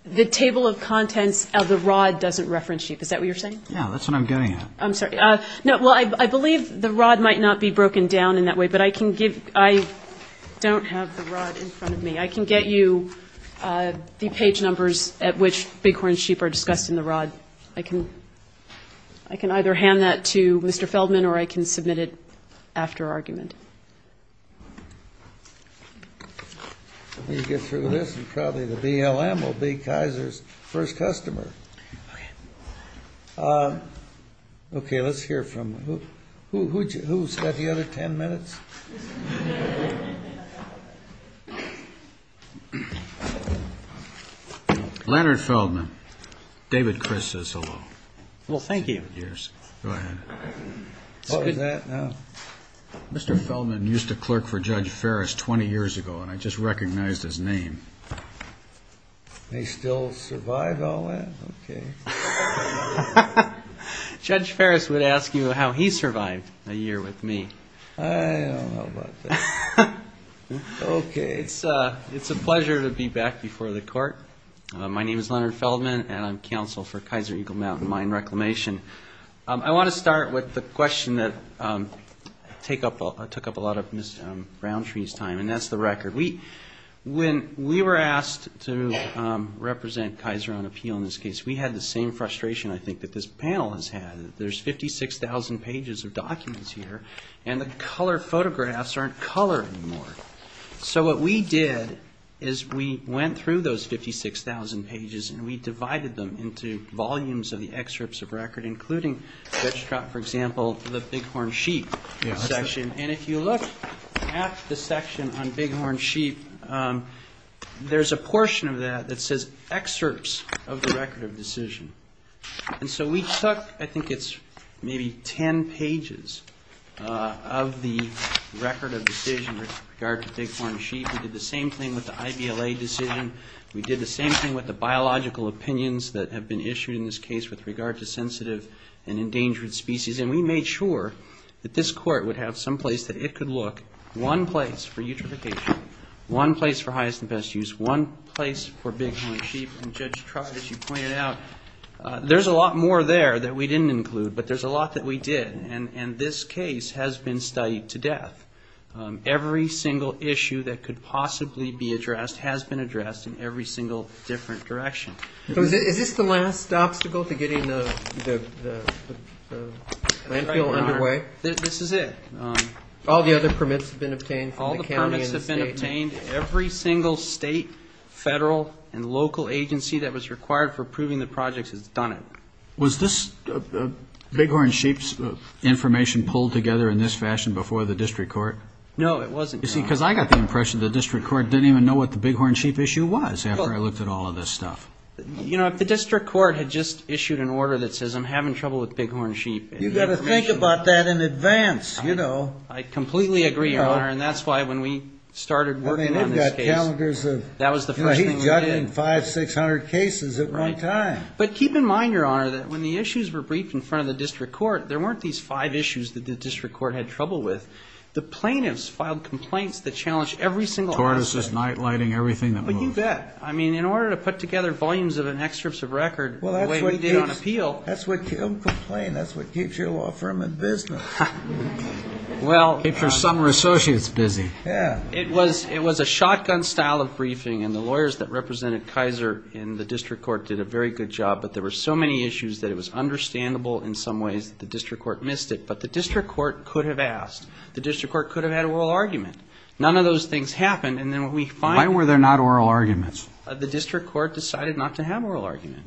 The table of contents of the rod doesn't reference sheep. Is that what you're saying? No, that's what I'm getting at. I'm sorry. No, well, I believe the rod might not be broken down in that way, but I can give, I don't have the rod in front of me. I can get you the page numbers at which bighorn sheep are discussed in the rod. I can I can either hand that to Mr. Feldman or I can submit it after argument. You get through this and probably the BLM will be Kaiser's first customer. OK, let's hear from who said the other 10 minutes. Leonard Feldman. David Christ is. Well, thank you. Here's that. Mr. Feldman used to clerk for Judge Ferris 20 years ago, and I just recognized his name. May still survive all that? OK. Judge Ferris would ask you how he survived a year with me. I don't know about that. OK. It's a pleasure to be back before the court. My name is Leonard Feldman, and I'm counsel for Kaiser Eagle Mountain Mine Reclamation. I want to start with the question that took up a lot of Ms. Browntree's time, and that's the record. When we were asked to represent Kaiser on appeal in this case, we had the same frustration, I think, that this panel has had. There's 56,000 pages of documents here, and the color photographs aren't colored anymore. So what we did is we went through those 56,000 pages and we divided them into volumes of the excerpts of record, including, for example, the bighorn sheep section. And if you look at the section on bighorn sheep, there's a portion of that that says excerpts of the record of decision. And so we took, I think it's maybe 10 pages of the record of decision with regard to bighorn sheep. We did the same thing with the IVLA decision. We did the same thing with the biological opinions that have been issued in this case with regard to sensitive and endangered species. And we made sure that this court would have some place that it could look, one place for eutrophication, one place for highest and best use, one place for bighorn sheep. And Judge Tribe, as you pointed out, there's a lot more there that we didn't include, but there's a lot that we did. And this case has been studied to death. Every single issue that could possibly be addressed has been addressed in every single different direction. So is this the last obstacle to getting the plan feel underway? This is it. All the other permits have been obtained from the county and the state. All the permits have been obtained. Every single state, federal, and local agency that was required for approving the projects has done it. Was this bighorn sheep's information pulled together in this fashion before the district court? No, it wasn't done. Because I got the impression the district court didn't even know what the bighorn sheep issue was after I looked at all of this stuff. You know, the district court had just issued an order that says I'm having trouble with bighorn sheep. You've got to think about that in advance, you know. I completely agree, Your Honor, and that's why when we started working on this case, that was the first thing we did. He got in 500, 600 cases at one time. But keep in mind, Your Honor, that when the issues were briefed in front of the district court, there weren't these five issues that the district court had trouble with. The plaintiffs filed complaints that challenged every single aspect. Tortoises, night lighting, everything that moves. But you bet. I mean, in order to put together volumes of an excerpt of record the way we did on appeal. That's what keeps your law firm in business. It's for some associates, Dizzy. Yeah. It was a shotgun style of briefing, and the lawyers that represented Kaiser in the district court did a very good job. But there were so many issues that it was understandable in some ways that the district court missed it. But the district court could have asked. The district court could have had oral argument. None of those things happened. And then we find. Why were there not oral arguments? The district court decided not to have oral argument.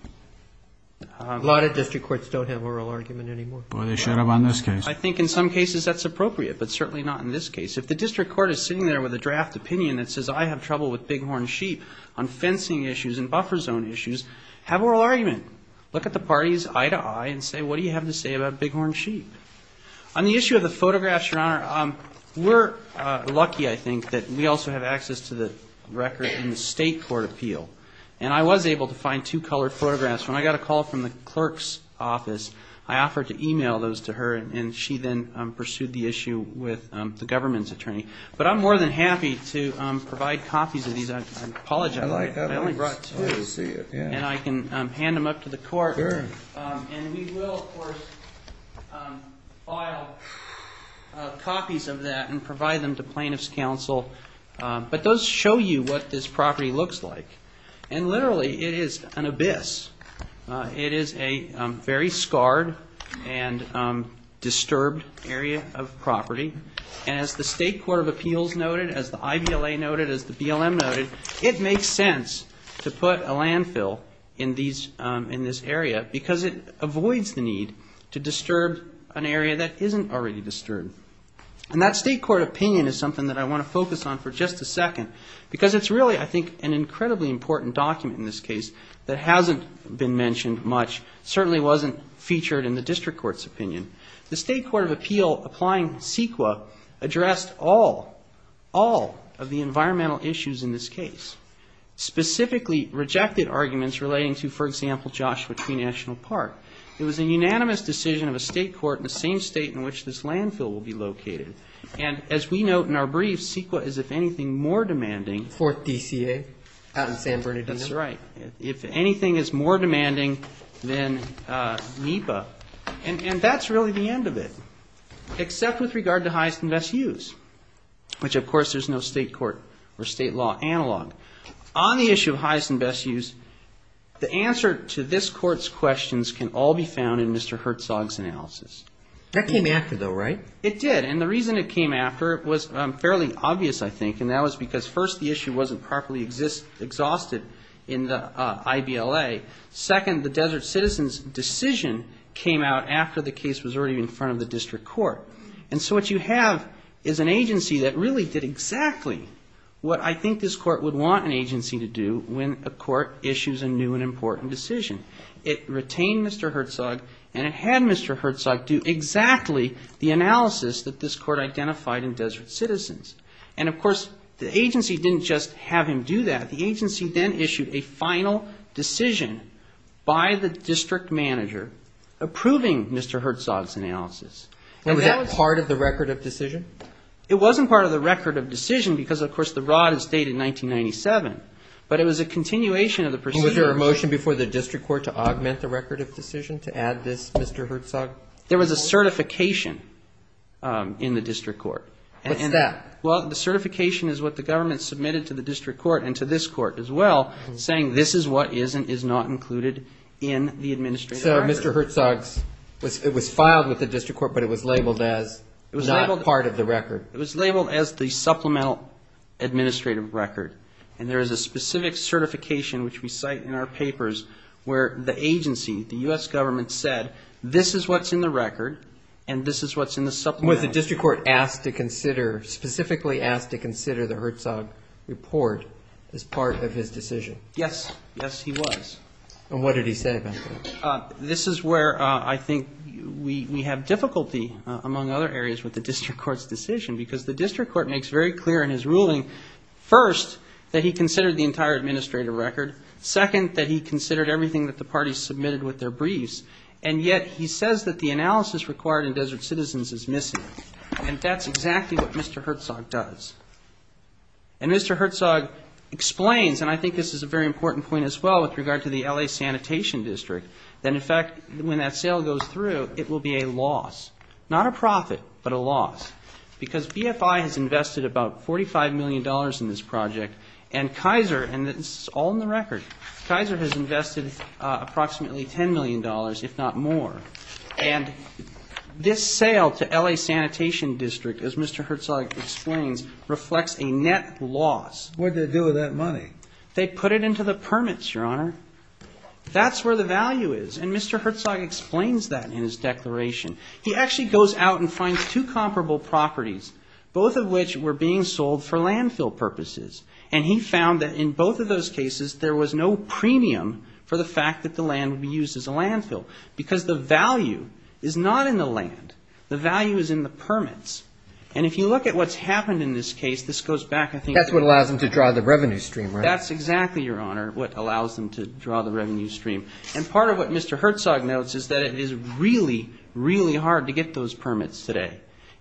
A lot of district courts don't have oral argument anymore. Well, they should have on this case. I think in some cases that's appropriate, but certainly not in this case. If the district court is sitting there with a draft opinion that says I have trouble with bighorn sheep on fencing issues and buffer zone issues, have oral argument. Look at the parties eye to eye and say what do you have to say about bighorn sheep? On the issue of the photographs, Your Honor, we're lucky, I think, that we also have access to the record in the state court appeal. And I was able to find two colored photographs. When I got a call from the clerk's office, I offered to e-mail those to her, and she then pursued the issue with the government's attorney. But I'm more than happy to provide copies of these. I apologize. I only brought two. And I can hand them up to the court. And we will, of course, file copies of that and provide them to plaintiff's counsel. But those show you what this property looks like. And literally it is an abyss. It is a very scarred and disturbed area of property. And as the state court of appeals noted, as the IBLA noted, as the BLM noted, it makes sense to put a landfill in this area because it avoids the need to disturb an area that isn't already disturbed. And that state court opinion is something that I want to focus on for just a second. Because it's really, I think, an incredibly important document in this case that hasn't been mentioned much, certainly wasn't featured in the district court's opinion. The state court of appeal applying CEQA addressed all, all of the environmental issues in this case. Specifically rejected arguments relating to, for example, Joshua Tree National Park. It was a unanimous decision of a state court in the same state in which this landfill will be located. And as we note in our brief, CEQA is, if anything, more demanding. Fourth DCA. That's right. If anything is more demanding than NEPA. And that's really the end of it. Except with regard to highest and best use. Which, of course, there's no state court or state law analog. On the issue of highest and best use, the answer to this court's questions can all be found in Mr. Herzog's analysis. That came after, though, right? It did. And the reason it came after was fairly obvious, I think. And that was because, first, the issue wasn't properly exhausted in the IBLA. Second, the Desert Citizens decision came out after the case was already in front of the district court. And so what you have is an agency that really did exactly what I think this court would want an agency to do when a court issues a new and important decision. It retained Mr. Herzog and it had Mr. Herzog do exactly the analysis that this court identified in Desert Citizens. And, of course, the agency didn't just have him do that. The agency then issued a final decision by the district manager approving Mr. Herzog's analysis. And that was part of the record of decision? It wasn't part of the record of decision because, of course, the rod is dated 1997. But it was a continuation of the procedure. Was there a motion before the district court to augment the record of decision to add this Mr. Herzog? There was a certification in the district court. What's that? Well, the certification is what the government submitted to the district court and to this court as well, saying this is what is and is not included in the administrative record. So Mr. Herzog, it was filed with the district court but it was labeled as not part of the record? It was labeled as the supplemental administrative record. And there is a specific certification which we cite in our papers where the agency, the U.S. government, said this is what's in the record and this is what's in the supplemental. And was the district court asked to consider, specifically asked to consider the Herzog report as part of his decision? Yes. Yes, he was. And what did he say about it? This is where I think we have difficulty, among other areas, with the district court's decision because the district court makes very clear in his ruling, first, that he considered the entire administrative record, second, that he considered everything that the parties submitted with their briefs, and yet he says that the analysis required in Desert Citizens is missing. And that's exactly what Mr. Herzog does. And Mr. Herzog explains, and I think this is a very important point as well with regard to the L.A. Sanitation District, that in fact when that sale goes through, it will be a loss. Not a profit, but a loss. Because BFI has invested about $45 million in this project and Kaiser, and this is all in the record, Kaiser has invested approximately $10 million, if not more. And this sale to L.A. Sanitation District, as Mr. Herzog explains, reflects a net loss. What did they do with that money? They put it into the permits, Your Honor. That's where the value is. And Mr. Herzog explains that in his declaration. He actually goes out and finds two comparable properties, both of which were being sold for landfill purposes. And he found that in both of those cases, there was no premium for the fact that the land would be used as a landfill. Because the value is not in the land. The value is in the permits. And if you look at what's happened in this case, this goes back, I think... That's what allows them to draw the revenue stream, right? That's exactly, Your Honor, what allows them to draw the revenue stream. And part of what Mr. Herzog notes is that it is really, really hard to get those permits today.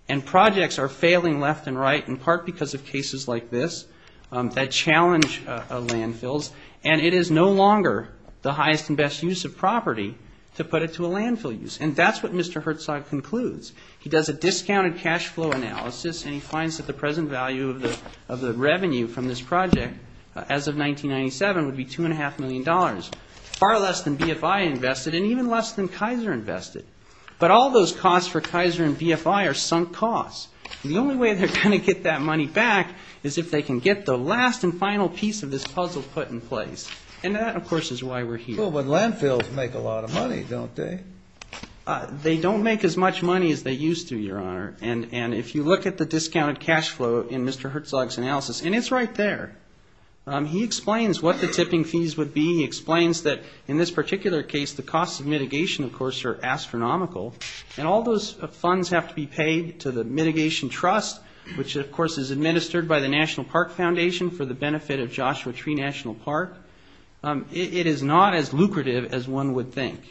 And projects are failing left and right in part because of cases like this that challenge landfills. And it is no longer the highest and best use of property to put it to a landfill use. And that's what Mr. Herzog concludes. He does a discounted cash flow analysis and he finds that the present value of the revenue from this project, as of 1997, would be $2.5 million. Far less than BFI invested and even less than Kaiser invested. But all those costs for Kaiser and BFI are sunk costs. The only way they're going to get that money back is if they can get the last and final piece of this puzzle put in place. And that, of course, is why we're here. Well, but landfills make a lot of money, don't they? They don't make as much money as they used to, Your Honor. And if you look at the discounted cash flow in Mr. Herzog's analysis, and it's right there. He explains what the tipping fees would be. He explains that, in this particular case, the costs of mitigation, of course, are astronomical. And all those funds have to be paid to the Mitigation Trust, which, of course, is administered by the National Park Foundation for the benefit of Joshua Tree National Park. It is not as lucrative as one would think.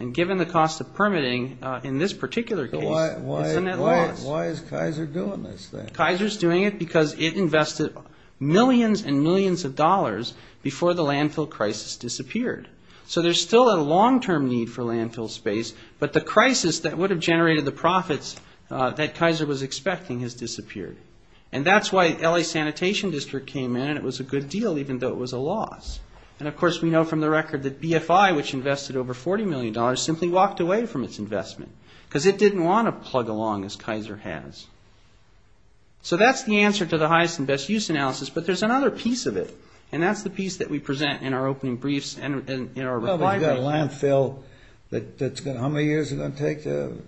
And given the cost of permitting in this particular case... Why is Kaiser doing this thing? Kaiser's doing it because it invested millions and millions of dollars before the landfill crisis disappeared. So there's still a long-term need for landfill space. But the crisis that would have generated the profits that Kaiser was expecting has disappeared. And that's why LA Sanitation District came in, and it was a good deal, even though it was a loss. And, of course, we know from the record that BFI, which invested over $40 million, simply walked away from its investment. Because it didn't want to plug along as Kaiser has. So that's the answer to the highest and best use analysis, but there's another piece of it. And that's the piece that we present in our opening briefs and in our... You've got a landfill that's going to... how many years is it going to take to...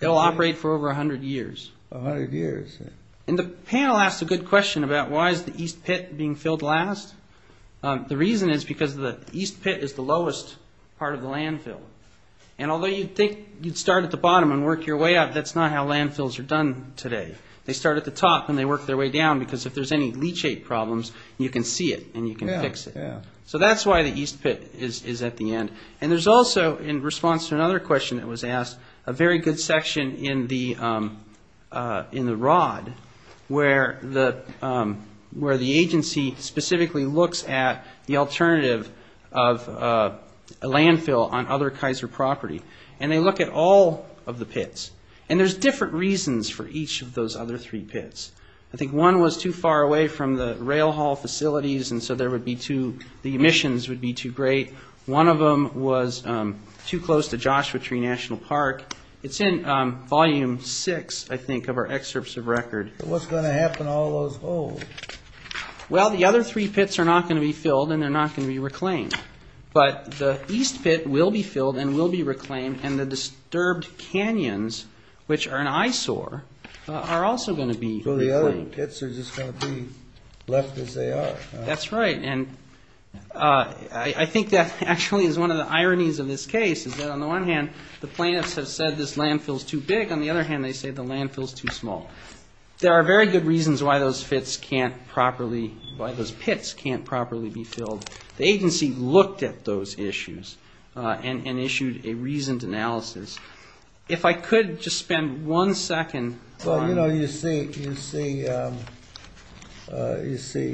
It'll operate for over 100 years. 100 years. And the panel asked a good question about why is the East Pit being filled last. The reason is because the East Pit is the lowest part of the landfill. And although you'd think you'd start at the bottom and work your way up, that's not how landfills are done today. They start at the top and they work their way down because if there's any leachate problems, you can see it and you can fix it. So that's why the East Pit is at the end. And there's also, in response to another question that was asked, a very good section in the ROD, where the agency specifically looks at the alternative of a landfill on other Kaiser property. And they look at all of the pits. And there's different reasons for each of those other three pits. I think one was too far away from the rail haul facilities and so there would be too... The emissions would be too great. One of them was too close to Joshua Tree National Park. It's in volume six, I think, of our excerpts of record. What's going to happen to all those holes? Well, the other three pits are not going to be filled and they're not going to be reclaimed. But the East Pit will be filled and will be reclaimed and the disturbed canyons, which are an eyesore, are also going to be reclaimed. So the other pits are just going to be left as they are. That's right. I think that actually is one of the ironies of this case. On the one hand, the plaintiffs have said this landfill is too big. On the other hand, they say the landfill is too small. There are very good reasons why those pits can't properly be filled. The agency looked at those issues and issued a reasoned analysis. If I could just spend one second... You know, you see,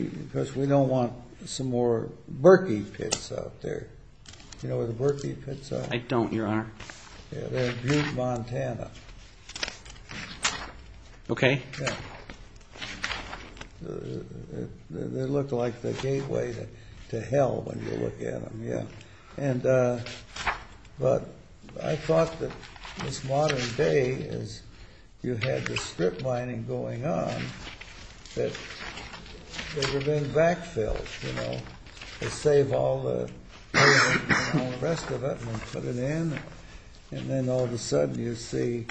because we don't want some more Berkey pits out there. Do you know where the Berkey pits are? I don't, Your Honor. They're in Duke, Montana. Okay. They look like the gateway to hell when you look at them. Yeah. But I thought that in this modern day, as you had the strip mining going on, that they were being backfilled, you know. They saved all the waste and all the rest of it and put it in. And then all of a sudden you see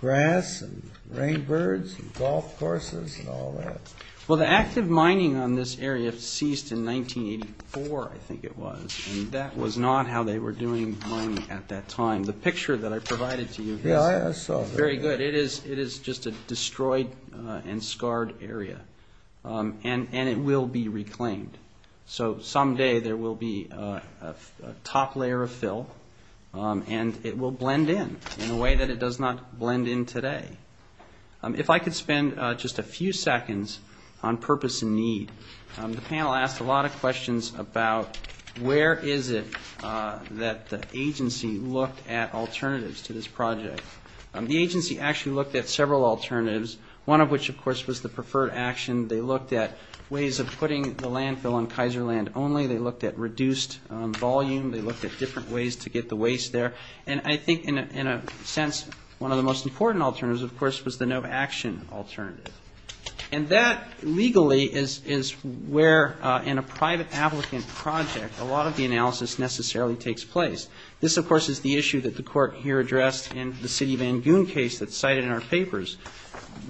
grass and rainbirds and golf courses and all that. Well, the active mining on this area ceased in 1984, I think it was. And that was not how they were doing mining at that time. The picture that I provided to you... Yeah, I saw that. Very good. It is just a destroyed and scarred area. And it will be reclaimed. So someday there will be a top layer of fill and it will blend in in a way that it does not blend in today. If I could spend just a few seconds on purpose and need. The panel asked a lot of questions about where is it that the agency looked at alternatives to this project. The agency actually looked at several alternatives, one of which, of course, was the preferred action. They looked at ways of putting the landfill on Kaiser land only. They looked at reduced volume. They looked at different ways to get the waste there. And I think in a sense one of the most important alternatives, of course, was the no action alternative. And that legally is where in a private applicant project a lot of the analysis necessarily takes place. This, of course, is the issue that the court here addressed in the city of Van Buren case that is cited in our papers.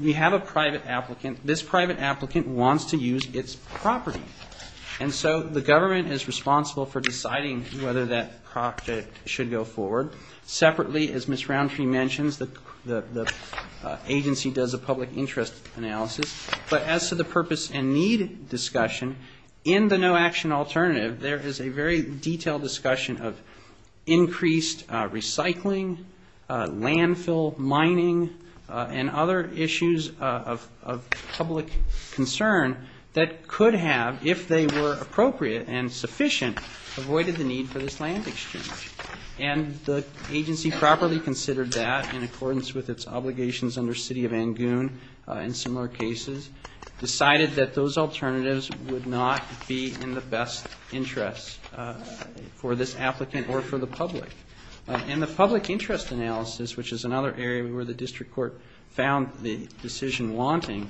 We have a private applicant. This private applicant wants to use its property. And so the government is responsible for deciding whether that project should go forward. Separately, as Ms. Roundtree mentioned, the agency does a public interest analysis. But as to the purpose and need discussion, in the no action alternative there is a very detailed discussion of increased recycling, landfill, mining, and other issues of public concern that could have, if they were appropriate and sufficient, avoided the need for this land exchange. And the agency properly considered that in accordance with its obligations under city of Van Buren and similar cases, decided that those alternatives would not be in the best interest for this applicant or for the public. And the public interest analysis, which is another area where the district court found the decision wanting,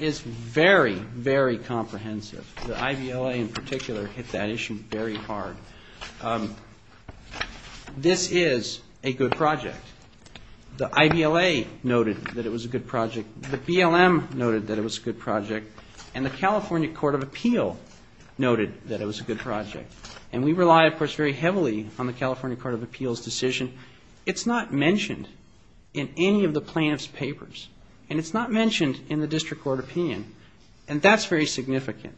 is very, very comprehensive. The IVLA in particular hit that issue very hard. This is a good project. The IVLA noted that it was a good project. The BLM noted that it was a good project. And the California Court of Appeal noted that it was a good project. And we rely, of course, very heavily on the California Court of Appeal's decision. It's not mentioned in any of the plaintiff's papers. And it's not mentioned in the district court opinion. And that's very significant.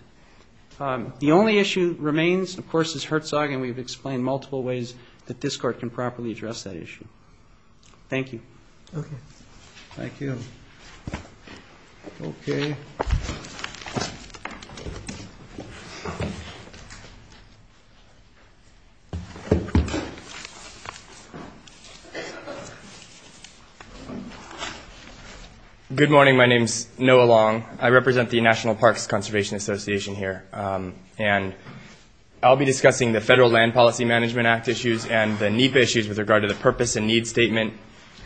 The only issue remains, of course, is Herzog. And we've explained multiple ways that this court can properly address that issue. Thank you. Thank you. Okay. Good morning. My name is Noah Long. I represent the National Parks Conservation Association here. And I'll be discussing the Federal Land Policy Management Act issues and the NEPA issues with regard to the purpose and need statement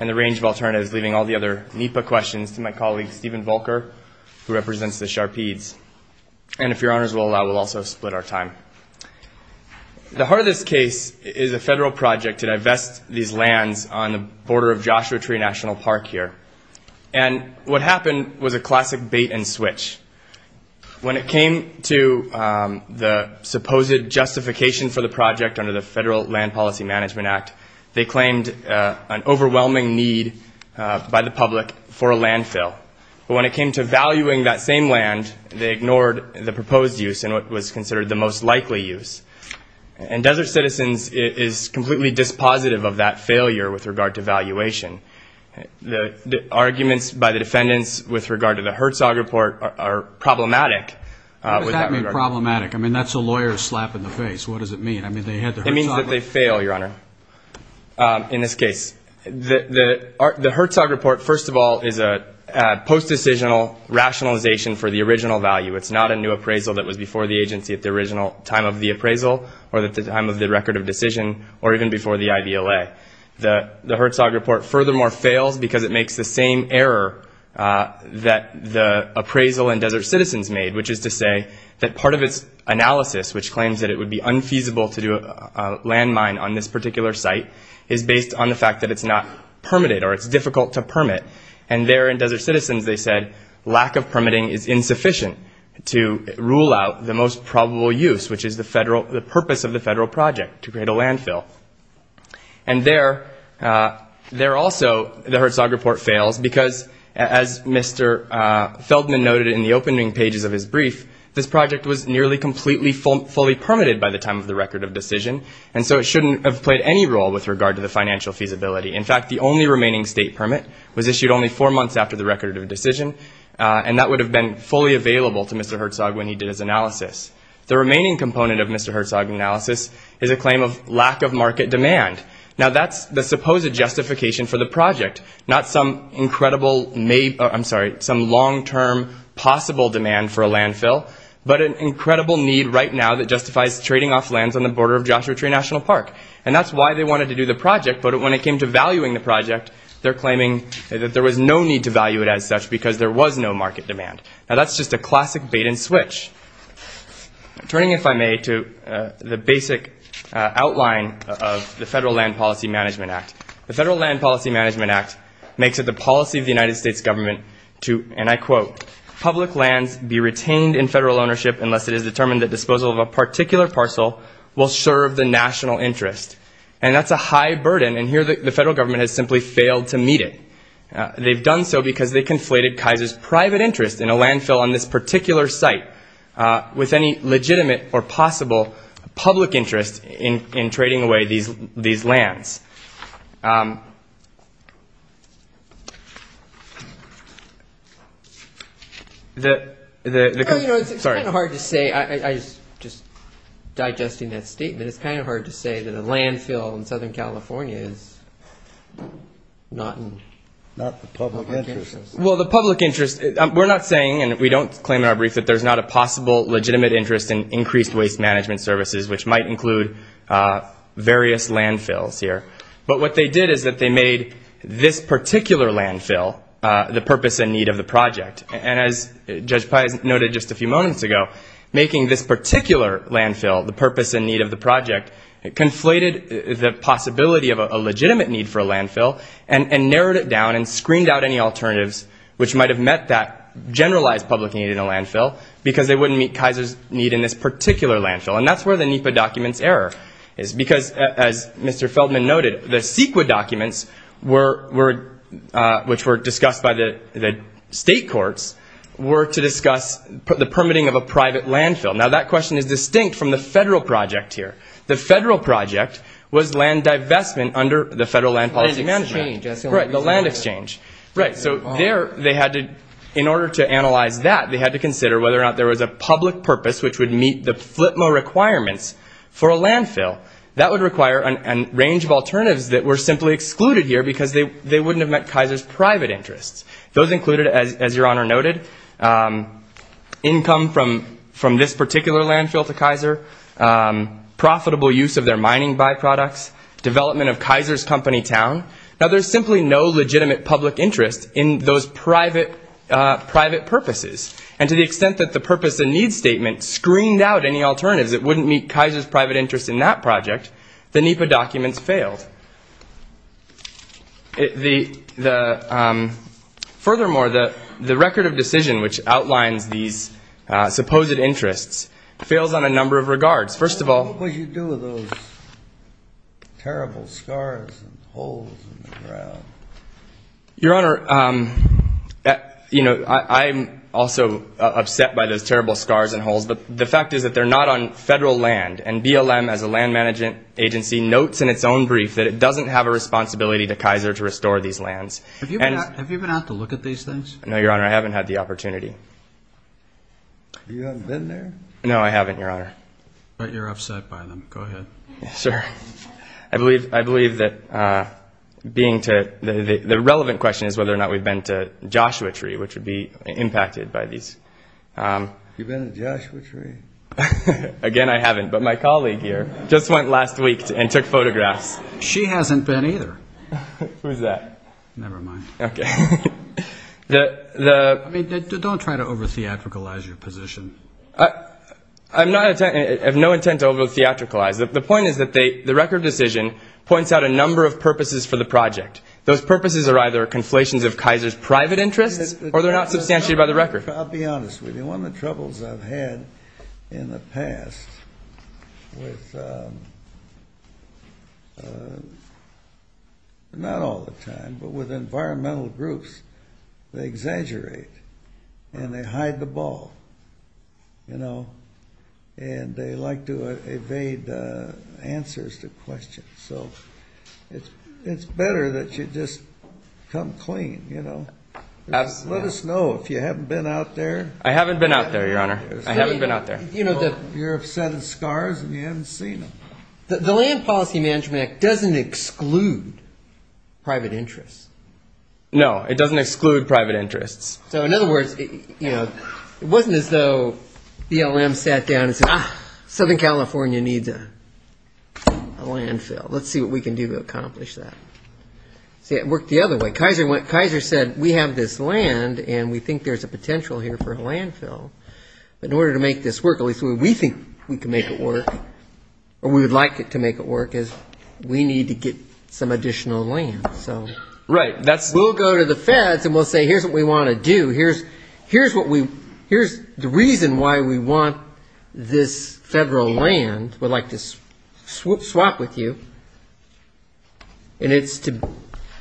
and the range of alternatives, leaving all the other NEPA questions to my colleague, Stephen Volker, who represents the Sharpies. And if your honors will allow, we'll also split our time. The heart of this case is a federal project to divest these lands on the border of Joshua Tree National Park here. And what happened was a classic bait and switch. When it came to the supposed justification for the project under the Federal Land Policy Management Act, they claimed an overwhelming need by the public for a landfill. But when it came to valuing that same land, they ignored the proposed use and what was considered the most likely use. And Desert Citizens is completely dispositive of that failure with regard to valuation. The arguments by the defendants with regard to the Herzog report are problematic. What does that mean, problematic? I mean, that's a lawyer slapping the face. What does it mean? It means that they fail, your honor, in this case. The Herzog report, first of all, is a post-decisional rationalization for the original value. It's not a new appraisal that was before the agency at the original time of the appraisal or at the time of the record of decision or even before the IDLA. The Herzog report furthermore failed because it makes the same error that the appraisal and Desert Citizens made, which is to say that part of its analysis, which claims that it would be unfeasible to do a landmine on this particular site, is based on the fact that it's not permitted or it's difficult to permit. And there in Desert Citizens they said lack of permitting is insufficient to rule out the most probable use, which is the purpose of the federal project, to create a landfill. And there also the Herzog report fails because, as Mr. Feldman noted in the opening pages of his brief, this project was nearly completely fully permitted by the time of the record of decision, and so it shouldn't have played any role with regard to the financial feasibility. In fact, the only remaining state permit was issued only four months after the record of decision, and that would have been fully available to Mr. Herzog when he did his analysis. The remaining component of Mr. Herzog's analysis is a claim of lack of market demand. Now that's the supposed justification for the project. Not some incredible, I'm sorry, some long-term possible demand for a landfill, but an incredible need right now that justifies trading off lands on the border of Joshua Tree National Park. And that's why they wanted to do the project, but when it came to valuing the project, they're claiming that there was no need to value it as such because there was no market demand. Now that's just a classic bait-and-switch. Turning, if I may, to the basic outline of the Federal Land Policy Management Act. The Federal Land Policy Management Act makes it the policy of the United States government to, and I quote, public lands be retained in federal ownership unless it is determined that disposal of a particular parcel will serve the national interest. And that's a high burden, and here the federal government has simply failed to meet it. They've done so because they've conflated Kaiser's private interest in a landfill on this particular site with any legitimate or possible public interest in trading away these lands. It's kind of hard to say, I was just digesting that statement, and it's kind of hard to say that a landfill in Southern California is not the public interest. Well, the public interest, we're not saying, and we don't claim in our brief, that there's not a possible legitimate interest in increased waste management services, which might include various landfills here. But what they did is that they made this particular landfill the purpose and need of the project. And as Judge Pye noted just a few moments ago, making this particular landfill the purpose and need of the project, it conflated the possibility of a legitimate need for a landfill and narrowed it down and screened out any alternatives which might have met that generalized public need in a landfill because they wouldn't meet Kaiser's need in this particular landfill. And that's where the NEPA document's error is because, as Mr. Feldman noted, the CEQA documents, which were discussed by the state courts, were to discuss the permitting of a private landfill. Now, that question is distinct from the federal project here. The federal project was land divestment under the Federal Land Policy Management. The land exchange. Right, the land exchange. Right, so there they had to, in order to analyze that, they had to consider whether or not there was a public purpose which would meet the FLPMO requirements for a landfill. That would require a range of alternatives that were simply excluded here because they wouldn't have met Kaiser's private interests. Those included, as Your Honor noted, income from this particular landfill to Kaiser, profitable use of their mining byproducts, development of Kaiser's company town. Now, there's simply no legitimate public interest in those private purposes. And to the extent that the purpose and need statement screened out any alternatives that wouldn't meet Kaiser's private interest in that project, the NEPA document failed. Furthermore, the record of decision which outlined these supposed interests failed on a number of regards. First of all, What would you do with those terrible scars and holes in the ground? Your Honor, you know, I'm also upset by those terrible scars and holes, but the fact is that they're not on federal land, and BLM, as a land management agency, notes in its own brief that it doesn't have a responsibility to Kaiser to restore these lands. Have you been out to look at these things? No, Your Honor, I haven't had the opportunity. You haven't been there? No, I haven't, Your Honor. But you're upset by them. Go ahead. Yes, sir. I believe that the relevant question is whether or not we've been to Joshua Tree, which would be impacted by these. Have you been to Joshua Tree? Again, I haven't, but my colleague here just went last week and took photographs. She hasn't been either. Who's that? Never mind. Okay. I mean, don't try to over-theatricalize your position. I have no intent to over-theatricalize. The point is that the record of decision points out a number of purposes for the project. Those purposes are either conflations of Kaiser's private interest, or they're not substantiated by the record. I'll be honest with you. One of the troubles I've had in the past with, not all the time, but with environmental groups, they exaggerate and they hide the ball, you know, and they like to evade answers to questions. So it's better that you just come clean, you know. Let us know if you haven't been out there. I haven't been out there, Your Honor. I haven't been out there. You're upset of scars and you haven't seen them. The Land Folicy Management Act doesn't exclude private interests. No, it doesn't exclude private interests. So in other words, you know, it wasn't as though BLM sat down and said, ah, Southern California needs a landfill. Let's see what we can do to accomplish that. It worked the other way. Kaiser said we have this land and we think there's a potential here for a landfill. In order to make this work, at least we think we can make it work, or we would like to make it work, is we need to get some additional land. Right. We'll go to the feds and we'll say here's what we want to do. Here's the reason why we want this federal land. We'd like to swap with you. And it's to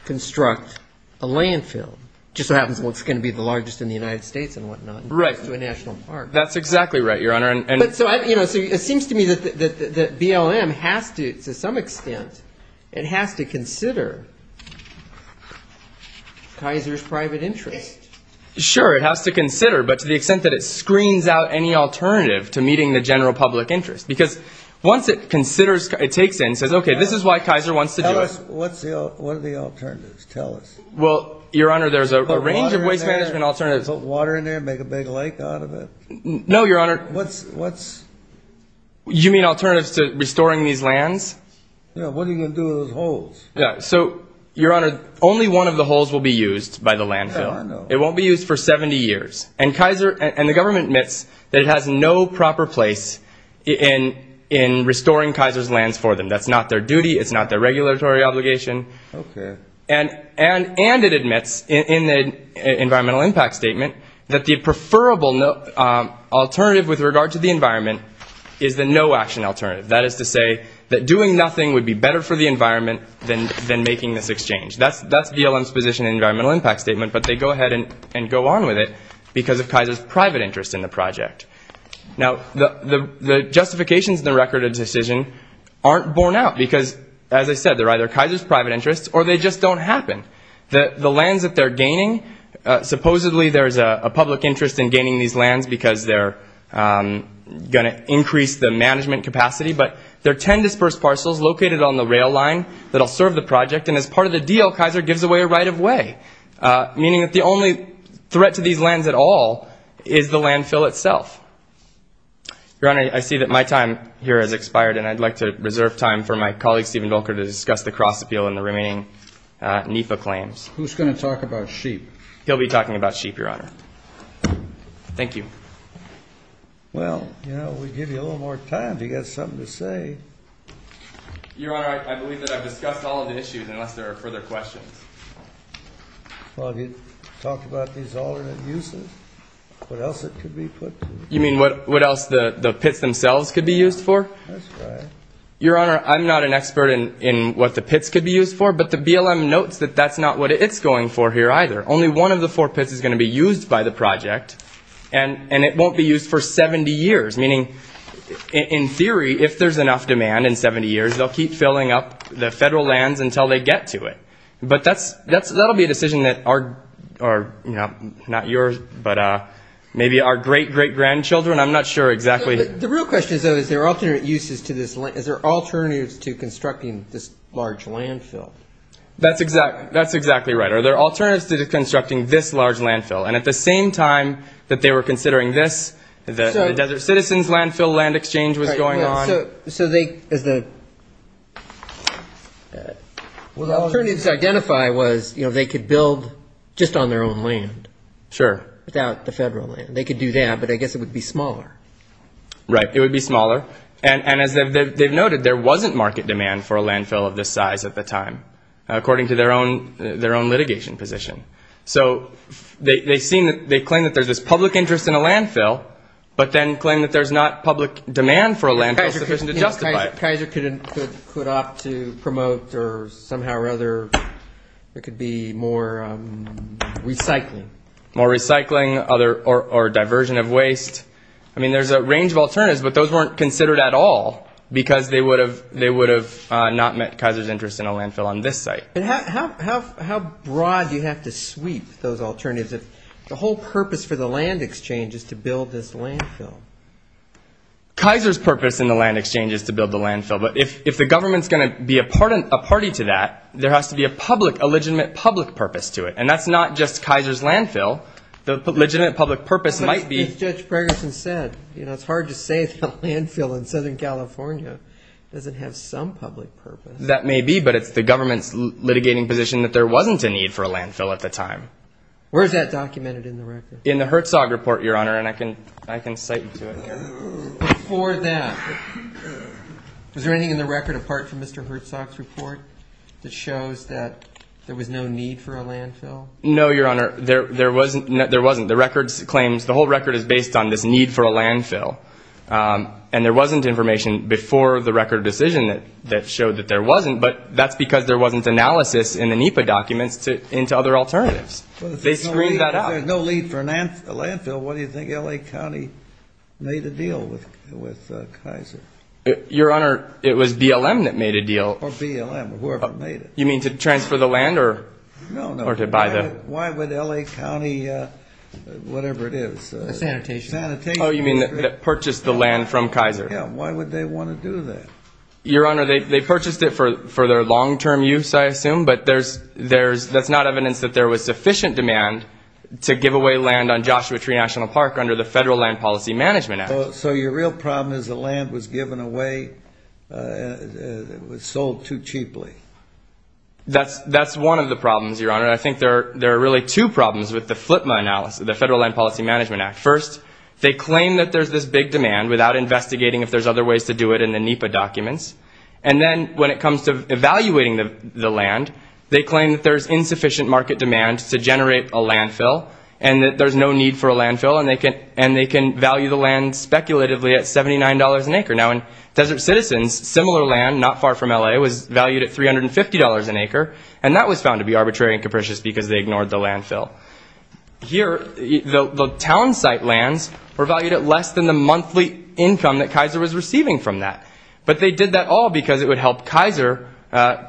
construct a landfill. Just what happens when it's going to be the largest in the United States and whatnot. Right. That's exactly right, Your Honor. It seems to me that BLM has to, to some extent, it has to consider Kaiser's private interest. Sure, it has to consider, but to the extent that it screens out any alternative to meeting the general public interest. Because once it considers, it takes in and says, okay, this is why Kaiser wants to do it. What are the alternatives? Tell us. Well, Your Honor, there's a range of waste management alternatives. Put water in there and make a big lake out of it? No, Your Honor. What's... You mean alternatives to restoring these lands? Yeah, what are you going to do with those holes? So, Your Honor, only one of the holes will be used by the landfill. It won't be used for 70 years. And the government admits that it has no proper place in restoring Kaiser's lands for them. That's not their duty. It's not their regulatory obligation. Okay. And it admits in the environmental impact statement that the preferable alternative with regard to the environment is the no action alternative. That is to say that doing nothing would be better for the environment than making this exchange. That's DLM's position in the environmental impact statement. But they go ahead and go on with it because of Kaiser's private interest in the project. Now, the justifications in the record of the decision aren't borne out because, as I said, they're either Kaiser's private interest or they just don't happen. The lands that they're gaining, supposedly there's a public interest in gaining these lands because they're going to increase the management capacity. But there are 10 dispersed parcels located on the rail line that will serve the project. And as part of the deal, Kaiser gives away a right of way, meaning that the only threat to these lands at all is the landfill itself. Your Honor, I see that my time here has expired, and I'd like to reserve time for my colleague, Stephen Golker, to discuss the cross-appeal and the remaining NEPA claims. Who's going to talk about sheep? He'll be talking about sheep, Your Honor. Thank you. Well, you know, we'll give you a little more time if you've got something to say. Your Honor, I believe that I've discussed all of the issues, unless there are further questions. Well, if you talk about these alternate uses, what else it could be put to? You mean what else the pits themselves could be used for? That's right. Your Honor, I'm not an expert in what the pits could be used for, but the BLM notes that that's not what it's going for here either. Only one of the four pits is going to be used by the project, and it won't be used for 70 years, meaning, in theory, if there's enough demand in 70 years, they'll keep filling up the federal lands until they get to it. But that'll be a decision that our, you know, not yours, but maybe our great-great-grandchildren, I'm not sure exactly. The real question, though, is there alternate uses to this, is there alternatives to constructing this large landfill? That's exactly right. Are there alternatives to constructing this large landfill? And at the same time that they were considering this, the Desert Citizens Landfill Land Exchange was going on. So the alternative to identify was, you know, they could build just on their own land. Sure. Without the federal land. They could do that, but I guess it would be smaller. Right, it would be smaller. And as they noted, there wasn't market demand for a landfill of this size at the time, according to their own litigation position. So they claim that there's public interest in a landfill, but then claim that there's not public demand for a landfill. Kaiser could opt to promote, or somehow or other, it could be more recycling. More recycling or diversion of waste. I mean, there's a range of alternatives, but those weren't considered at all, because they would have not met Kaiser's interest in a landfill on this site. How broad do you have to sweep those alternatives? The whole purpose for the land exchange is to build this landfill. Kaiser's purpose in the land exchange is to build the landfill, but if the government's going to be a party to that, there has to be a legitimate public purpose to it, and that's not just Kaiser's landfill. The legitimate public purpose might be... As Judge Gregerson said, you know, it's hard to say it's a landfill in Southern California. It doesn't have some public purpose. That may be, but it's the government litigating position that there wasn't a need for a landfill at the time. Where is that documented in the record? In the Herzog report, Your Honor, and I can cite you to it. Before that, is there anything in the record apart from Mr. Herzog's report that shows that there was no need for a landfill? No, Your Honor, there wasn't. The records claim the whole record is based on this need for a landfill, and there wasn't information before the record decision that showed that there wasn't, but that's because there wasn't analysis in the NEPA document into other alternatives. They screwed that up. If there's no need for a landfill, why do you think L.A. County made a deal with Kaiser? Your Honor, it was BLM that made a deal. Or BLM, whoever made it. You mean to transfer the land or to buy the... No, no, why would L.A. County, whatever it is... Sanitation. Oh, you mean that purchased the land from Kaiser. Why would they want to do that? Your Honor, they purchased it for their long-term use, I assume, but that's not evidence that there was sufficient demand to give away land on Joshua Tree National Park under the Federal Land Policy Management Act. So your real problem is the land was given away and it was sold too cheaply. That's one of the problems, Your Honor, and I think there are really two problems with the FLPMA analysis, the Federal Land Policy Management Act. First, they claim that there's this big demand without investigating if there's other ways to do it in the NEPA documents, and then when it comes to evaluating the land, they claim that there's insufficient market demand to generate a landfill and that there's no need for a landfill and they can value the land speculatively at $79 an acre. Now, in Desert Citizens, similar land not far from L.A. was valued at $350 an acre, and that was found to be arbitrary and capricious because they ignored the landfill. Here, the town site lands were valued at less than the monthly income that Kaiser was receiving from that, but they did that all because it would help Kaiser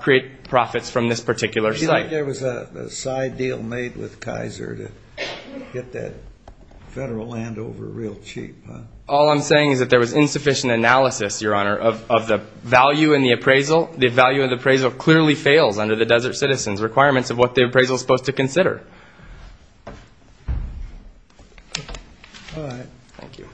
create profits from this particular site. You think there was a side deal made with Kaiser to get that federal land over real cheap? All I'm saying is that there was insufficient analysis, Your Honor, of the value and the appraisal. The value of the appraisal clearly failed under the Desert Citizens requirements of what the appraisal was supposed to consider. Go ahead. Thank you.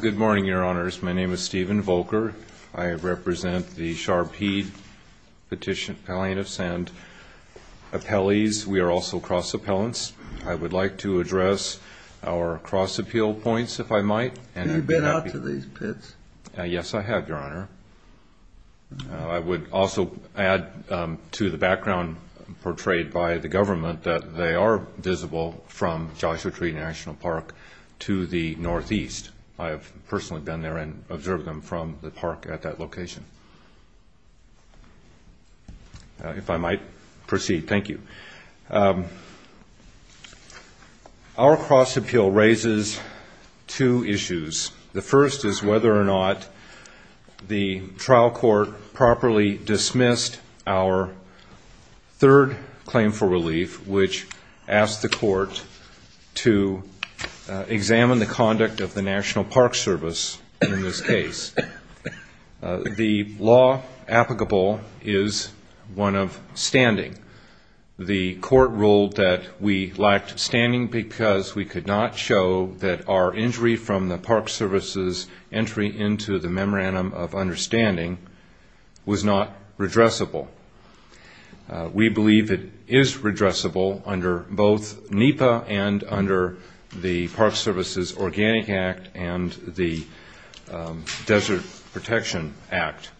Good morning, Your Honors. My name is Stephen Volker. I represent the Sharpheed Petition plaintiffs and appellees. We are also cross appellants. I would like to address our cross appeal points, if I might. Have you been out to these pits? Yes, I have, Your Honor. I would also add to the background portrayed by the government that they are visible from Joshua Tree National Park to the northeast. I have personally been there and observed them from the park at that location. If I might proceed. Thank you. Our cross appeal raises two issues. The first is whether or not the trial court properly dismissed our third claim for relief, which asked the court to examine the conduct of the National Park Service in this case. The law applicable is one of standing. The court ruled that we lacked standing because we could not show that our injury from the Park Service's entry into the Memorandum of Understanding was not redressable. We believe it is redressable under both NEPA and under the Park Service's Organic Act and the Desert Protection Act.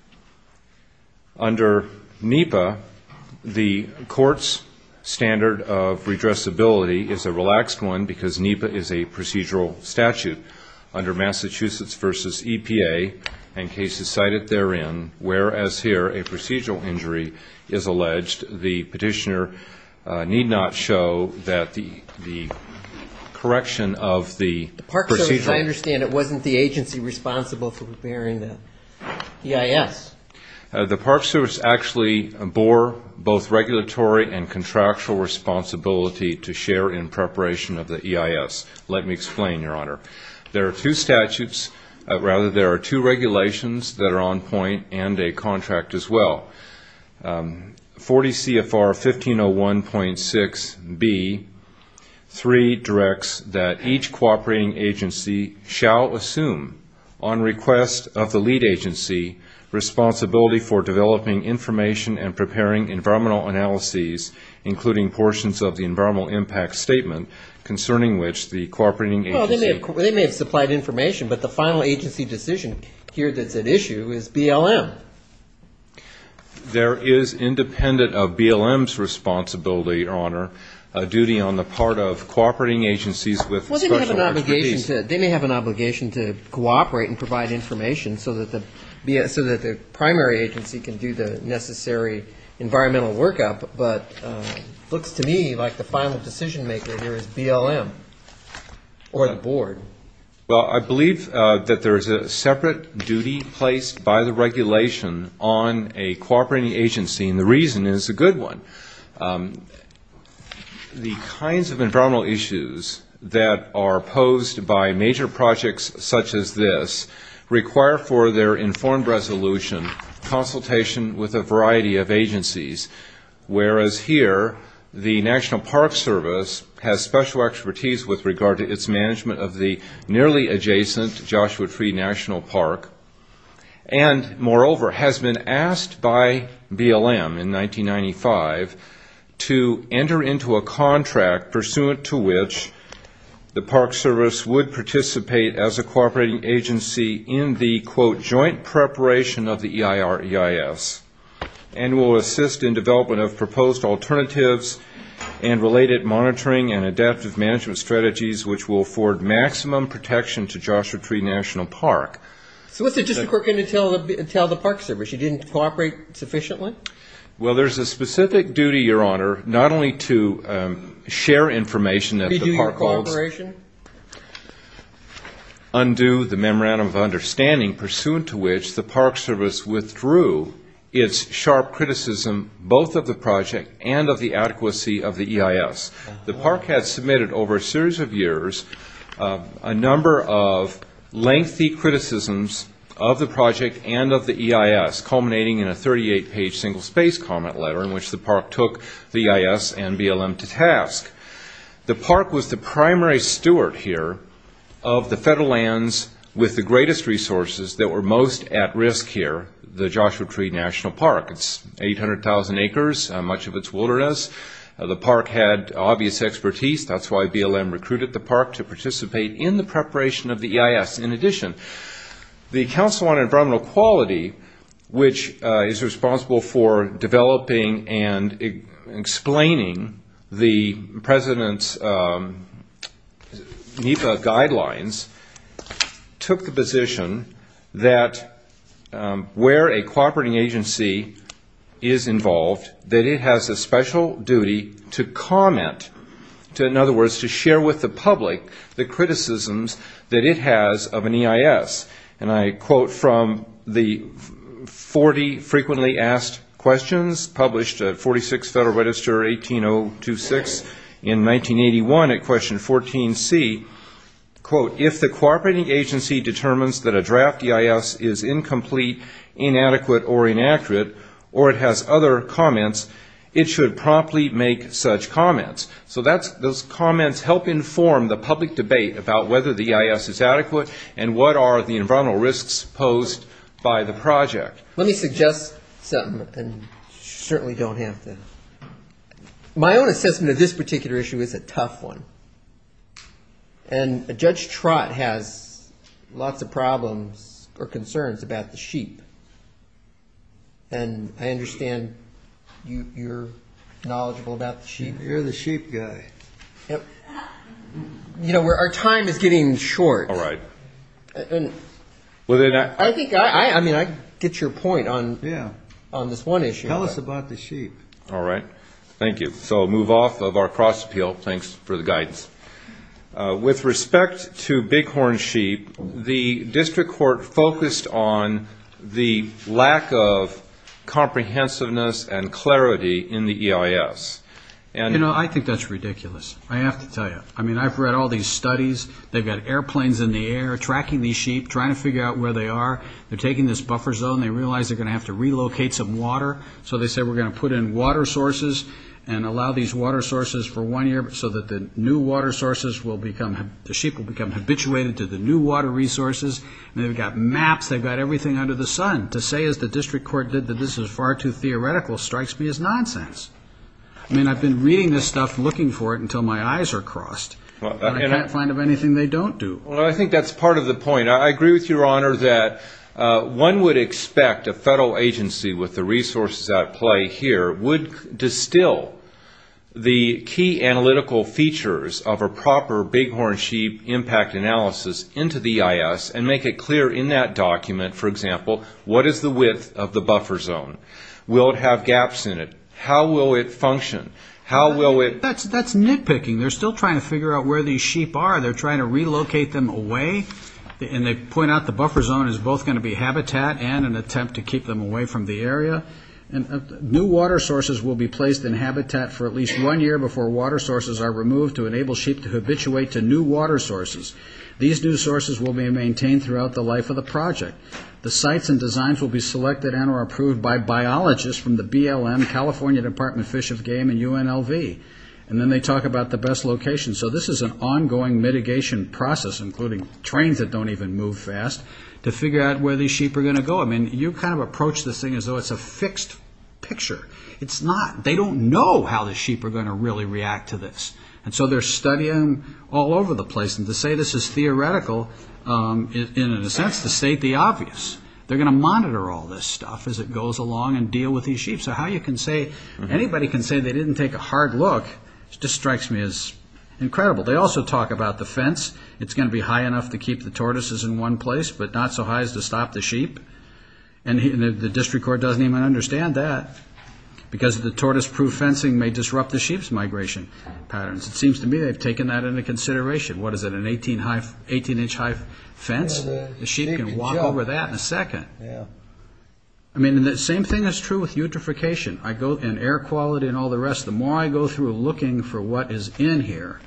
Under NEPA, the court's standard of redressability is a relaxed one because NEPA is a procedural statute under Massachusetts v. EPA and cases cited therein, whereas here a procedural injury is alleged. The petitioner need not show that the correction of the procedural. The Park Service, I understand, it wasn't the agency responsible for preparing the EIS. The Park Service actually bore both regulatory and contractual responsibility to share in preparation of the EIS. Let me explain, Your Honor. There are two statutes, rather there are two regulations that are on point and a contract as well. 40 CFR 1501.6B3 directs that each cooperating agency shall assume, on request of the lead agency, responsibility for developing information and preparing environmental analyses, including portions of the environmental impact statement concerning which the cooperating agency Well, they may have supplied information, but the final agency decision here that's at issue is BLM. There is, independent of BLM's responsibility, Your Honor, a duty on the part of cooperating agencies with Well, they may have an obligation to cooperate and provide information so that the primary agency can do the necessary environmental workup, but it looks to me like the final decision maker here is BLM or the board. Well, I believe that there is a separate duty placed by the regulation on a cooperating agency, and the reason is a good one. The kinds of environmental issues that are posed by major projects such as this require for their informed resolution consultation with a variety of agencies, whereas here the National Park Service has special expertise with regard to its management of the nearly adjacent Joshua Tree National Park and, moreover, has been asked by BLM in 1995 to enter into a contract pursuant to which the Park Service would participate as a cooperating agency in the joint preparation of the EIR-EIS and will assist in development of proposed alternatives and related monitoring and adaptive management strategies which will afford maximum protection to Joshua Tree National Park. So what's the justification for telling the Park Service you didn't cooperate sufficiently? Well, there's a specific duty, Your Honor, not only to share information that the Park Service Undo the memorandum of understanding pursuant to which the Park Service withdrew its sharp criticism both of the project and of the adequacy of the EIS. The Park had submitted over a series of years a number of lengthy criticisms of the project and of the EIS, culminating in a 38-page single-space comment letter in which the Park took the EIS and BLM to task. The Park was the primary steward here of the federal lands with the greatest resources that were most at risk here, the Joshua Tree National Park. It's 800,000 acres, much of its wilderness. The Park had obvious expertise. That's why BLM recruited the Park to participate in the preparation of the EIS. In addition, the Council on Environmental Quality, which is responsible for developing and explaining the President's NEPA guidelines, took the position that where a cooperating agency is involved, that it has a special duty to comment, in other words, to share with the public the criticisms that it has of an EIS. And I quote from the 40 frequently asked questions published at 46 Federal Register 18026 in 1981 at question 14C, quote, if the cooperating agency determines that a draft EIS is incomplete, inadequate, or inaccurate, or it has other comments, it should promptly make such comments. So those comments help inform the public debate about whether the EIS is adequate and what are the environmental risks posed by the project. Let me suggest something, and you certainly don't have to. My own assessment of this particular issue is a tough one. And Judge Trott has lots of problems or concerns about the sheep. And I understand you're knowledgeable about the sheep. You're the sheep guy. You know, our time is getting short. All right. I mean, I get your point on this one issue. Tell us about the sheep. All right. Thank you. So move off of our cross appeal. Thanks for the guidance. With respect to bighorn sheep, the district court focused on the lack of comprehensiveness and clarity in the EIS. You know, I think that's ridiculous. I have to tell you. I mean, I've read all these studies. They've got airplanes in the air tracking these sheep, trying to figure out where they are. They're taking this buffer zone. They realize they're going to have to relocate some water. So they said we're going to put in water sources and allow these water sources for one year so that the new water sources will become the sheep will become habituated to the new water resources. They've got maps. They've got everything under the sun to say is the district court did that. This is far too theoretical. Strikes me as nonsense. I mean, I've been reading this stuff, looking for it until my eyes are crossed. I can't find of anything they don't do. Well, I think that's part of the point. I agree with you, Your Honor, that one would expect a federal agency with the resources at play here would distill the key analytical features of a proper bighorn sheep impact analysis into the EIS and make it clear in that document, for example, what is the width of the buffer zone? Will it have gaps in it? How will it function? How will it... That's nitpicking. They're still trying to figure out where these sheep are. They're trying to relocate them away. And they point out the buffer zone is both going to be habitat and an attempt to keep them away from the area. And new water sources will be placed in habitat for at least one year before water sources are removed to enable sheep to habituate to new water sources. These new sources will be maintained throughout the life of the project. The sites and designs will be selected and or approved by biologists from the BLM, California Department of Fish and Game, and UNLV. And then they talk about the best location. So this is an ongoing mitigation process, including trains that don't even move fast to figure out where the sheep are going to go. You kind of approach this thing as though it's a fixed picture. It's not. They don't know how the sheep are going to really react to this. And so they're studying all over the place. And to say this is theoretical in a sense to state the obvious. They're going to monitor all this stuff as it goes along and deal with these sheep. Anybody can say they didn't take a hard look. It just strikes me as incredible. They also talk about the fence. It's going to be high enough to keep the tortoises in one place, but not so high as to stop the sheep. And the district court doesn't even understand that because the tortoise-proof fencing may disrupt the sheep's migration patterns. It seems to me they've taken that into consideration. What is it, an 18-inch high fence? The sheep can walk over that in a second. I mean, the same thing is true with eutrophication and air quality and all the rest. The more I go through looking for what is in here,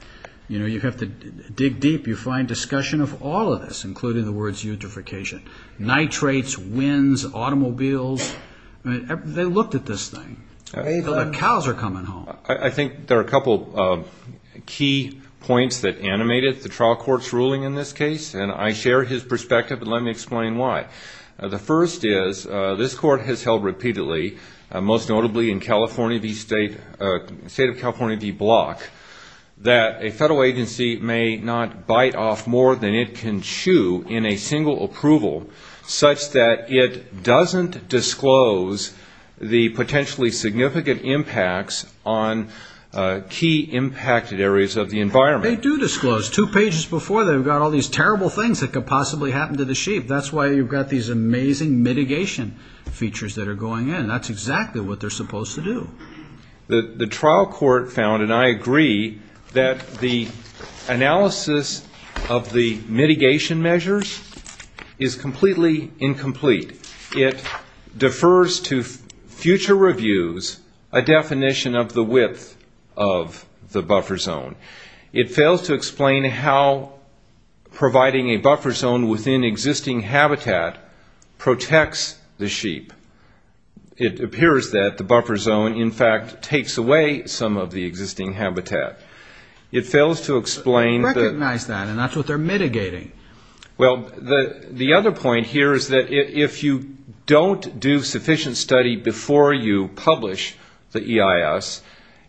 you know, you have to dig deep. You find discussion of all of this, including the words eutrophication, nitrates, winds, automobiles. They looked at this thing. The cows are coming home. I think there are a couple of key points that animated the trial court's ruling in this case, and I share his perspective. Let me explain why. The first is this court has held repeatedly, most notably in the state of California v. Block, that a federal agency may not bite off more than it can chew in a single approval, such that it doesn't disclose the potentially significant impacts on key impacted areas of the environment. They do disclose. Two pages before, they've got all these terrible things that could possibly happen to the sheep. That's why you've got these amazing mitigation features that are going in. That's exactly what they're supposed to do. The trial court found, and I agree, that the analysis of the mitigation measures is completely incomplete. It defers to future reviews a definition of the width of the buffer zone. It fails to explain how providing a buffer zone within existing habitat protects the sheep. It appears that the buffer zone, in fact, takes away some of the existing habitat. It fails to explain... They recognize that, and that's what they're mitigating. Well, the other point here is that if you don't do sufficient study before you publish the EIS,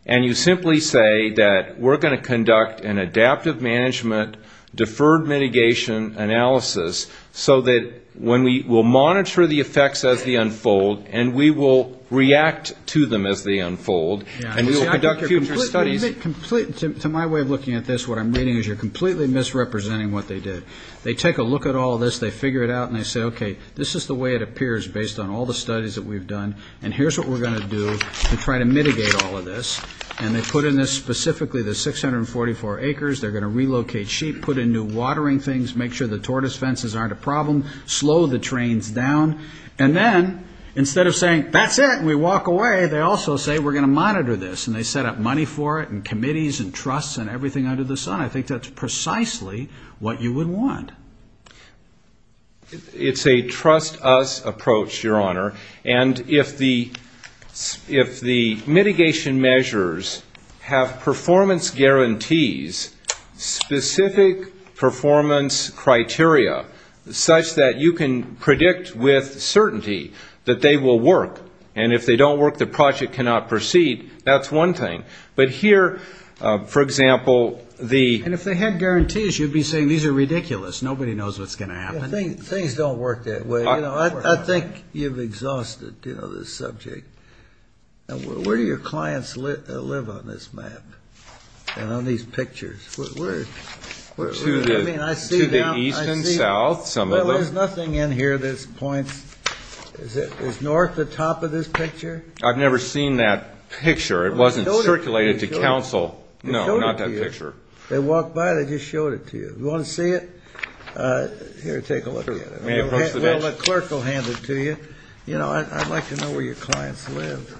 and you simply say that we're going to conduct an adaptive management deferred mitigation analysis so that when we will monitor the effects as they unfold, and we will react to them as they unfold, and we will conduct a future study... To my way of looking at this, what I'm meaning is you're completely misrepresenting what they did. They take a look at all this, they figure it out, and they say, okay, this is the way it appears based on all the studies that we've done, and here's what we're going to do to try to mitigate all of this, and they put in this specifically the 644 acres. They're going to relocate sheep, put in new watering things, make sure the tortoise fences aren't a problem, slow the trains down, and then instead of saying, that's it, and we walk away, they also say we're going to monitor this, and they set up money for it, and committees, and trusts, and everything under the sun. I think that's precisely what you would want. It's a trust us approach, Your Honor, and if the mitigation measures have performance guarantees, specific performance criteria such that you can predict with certainty that they will work, and if they don't work, the project cannot proceed, that's one thing. But here, for example, the... And if they had guarantees, you'd be saying these are ridiculous. Nobody knows what's going to happen. Things don't work that way. I think you've exhausted the subject. Where do your clients live on this map and on these pictures? To the east and south, some of them. There's nothing in here at this point. Is north the top of this picture? I've never seen that picture. It wasn't circulated to counsel. No, not that picture. They walked by it. I just showed it to you. You want to see it? Here, take a look at it. Well, the clerk will hand it to you. You know, I'd like to know where your clients live.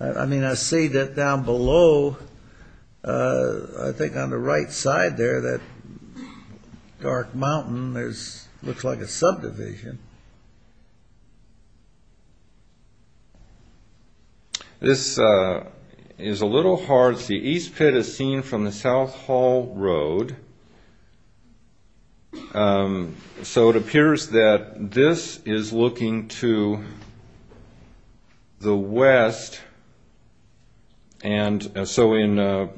I mean, I see that down below, I think on the right side there, that dark mountain looks like a subdivision. This is a little hard. The east pit is seen from the South Hall Road. So it appears that this is looking to the west. And so in the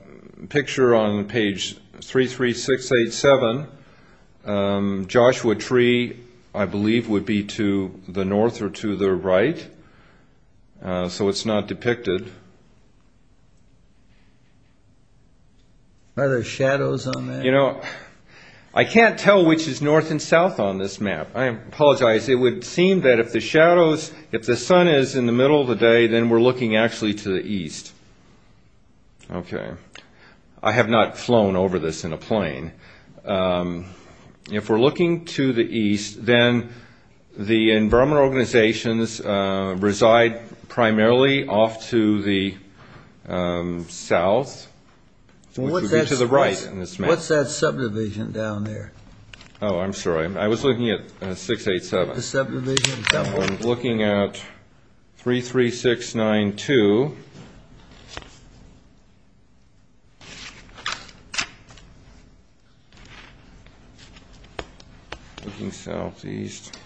picture on page 33687, Joshua Tree, I believe, would be to the north or to the right. So it's not depicted. Are there shadows on that? You know, I can't tell which is north and south on this map. I apologize. It would seem that if the sun is in the middle of the day, then we're looking actually to the east. Okay. I have not flown over this in a plane. If we're looking to the east, then the environmental organizations reside primarily off to the south, which would be to the right on this map. What's that subdivision down there? Oh, I'm sorry. I was looking at 687. The subdivision. I was looking at 33692. Looking southeast.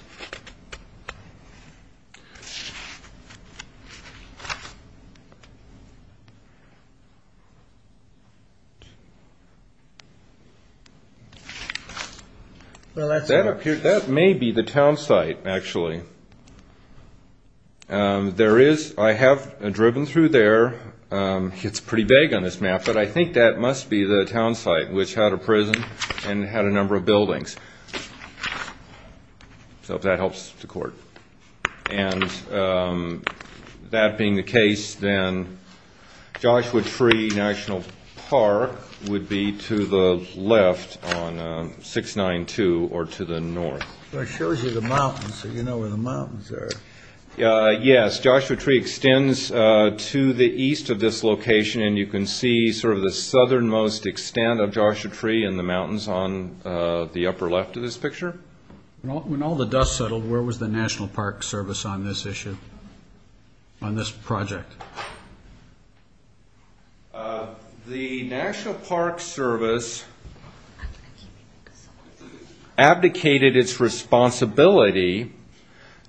That may be the town site, actually. I have driven through there. It's pretty big on this map. But I think that must be the town site, which had a prison and had a number of buildings. So if that helps the court. And that being the case, then Joshua Tree National Park would be to the left on 692 or to the north. It shows you the mountains, so you know where the mountains are. Yes, Joshua Tree extends to the east of this location, and you can see sort of the southernmost extent of Joshua Tree and the mountains on the upper left of this picture. When all the dust settled, where was the National Park Service on this issue, on this project? The National Park Service abdicated its responsibility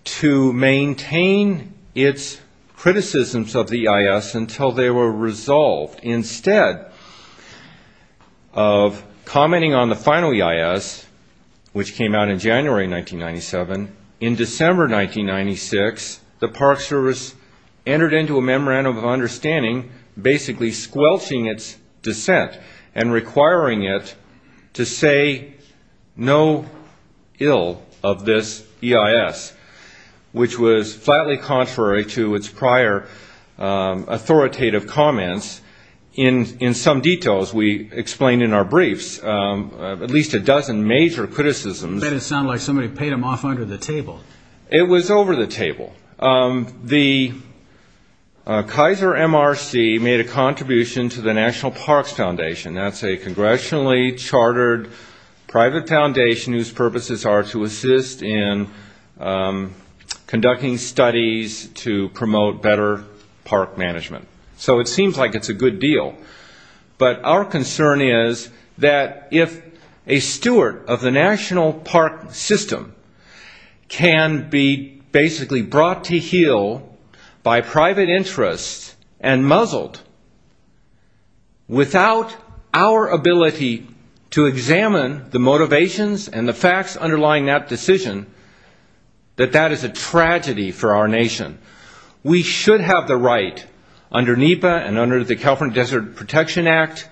to maintain its criticisms of the EIS until they were resolved. Instead of commenting on the final EIS, which came out in January 1997, in December 1996, the Park Service entered into a memorandum of understanding basically squelching its dissent and requiring it to say no ill of this EIS, which was flatly contrary to its prior authoritative comments. In some details, we explain in our briefs at least a dozen major criticisms. I bet it sounded like somebody paid them off under the table. It was over the table. The Kaiser MRC made a contribution to the National Parks Foundation. That's a congressionally chartered private foundation whose purposes are to assist in conducting studies to promote better park management. So it seems like it's a good deal. Our concern is that if a steward of the national park system can be basically brought to heel by private interests and muzzled without our ability to examine the motivations and the facts underlying that decision, that that is a tragedy for our nation. We should have the right under NEPA and under the California Desert Protection Act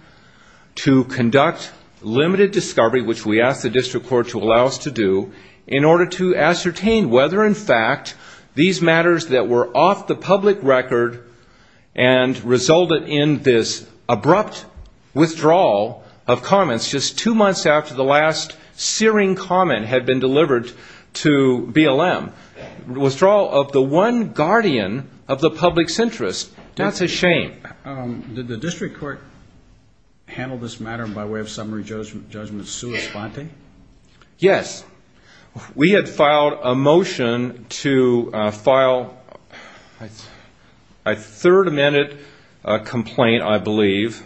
to conduct limited discovery, which we ask the district court to allow us to do, in order to ascertain whether in fact these matters that were off the public record and resulted in this abrupt withdrawal of comments just two months after the last searing comment had been delivered to BLM. Withdrawal of the one guardian of the public's interest. That's a shame. Did the district court handle this matter by way of summary judgment sui sponte? Yes. We had filed a motion to file a third amended complaint, I believe.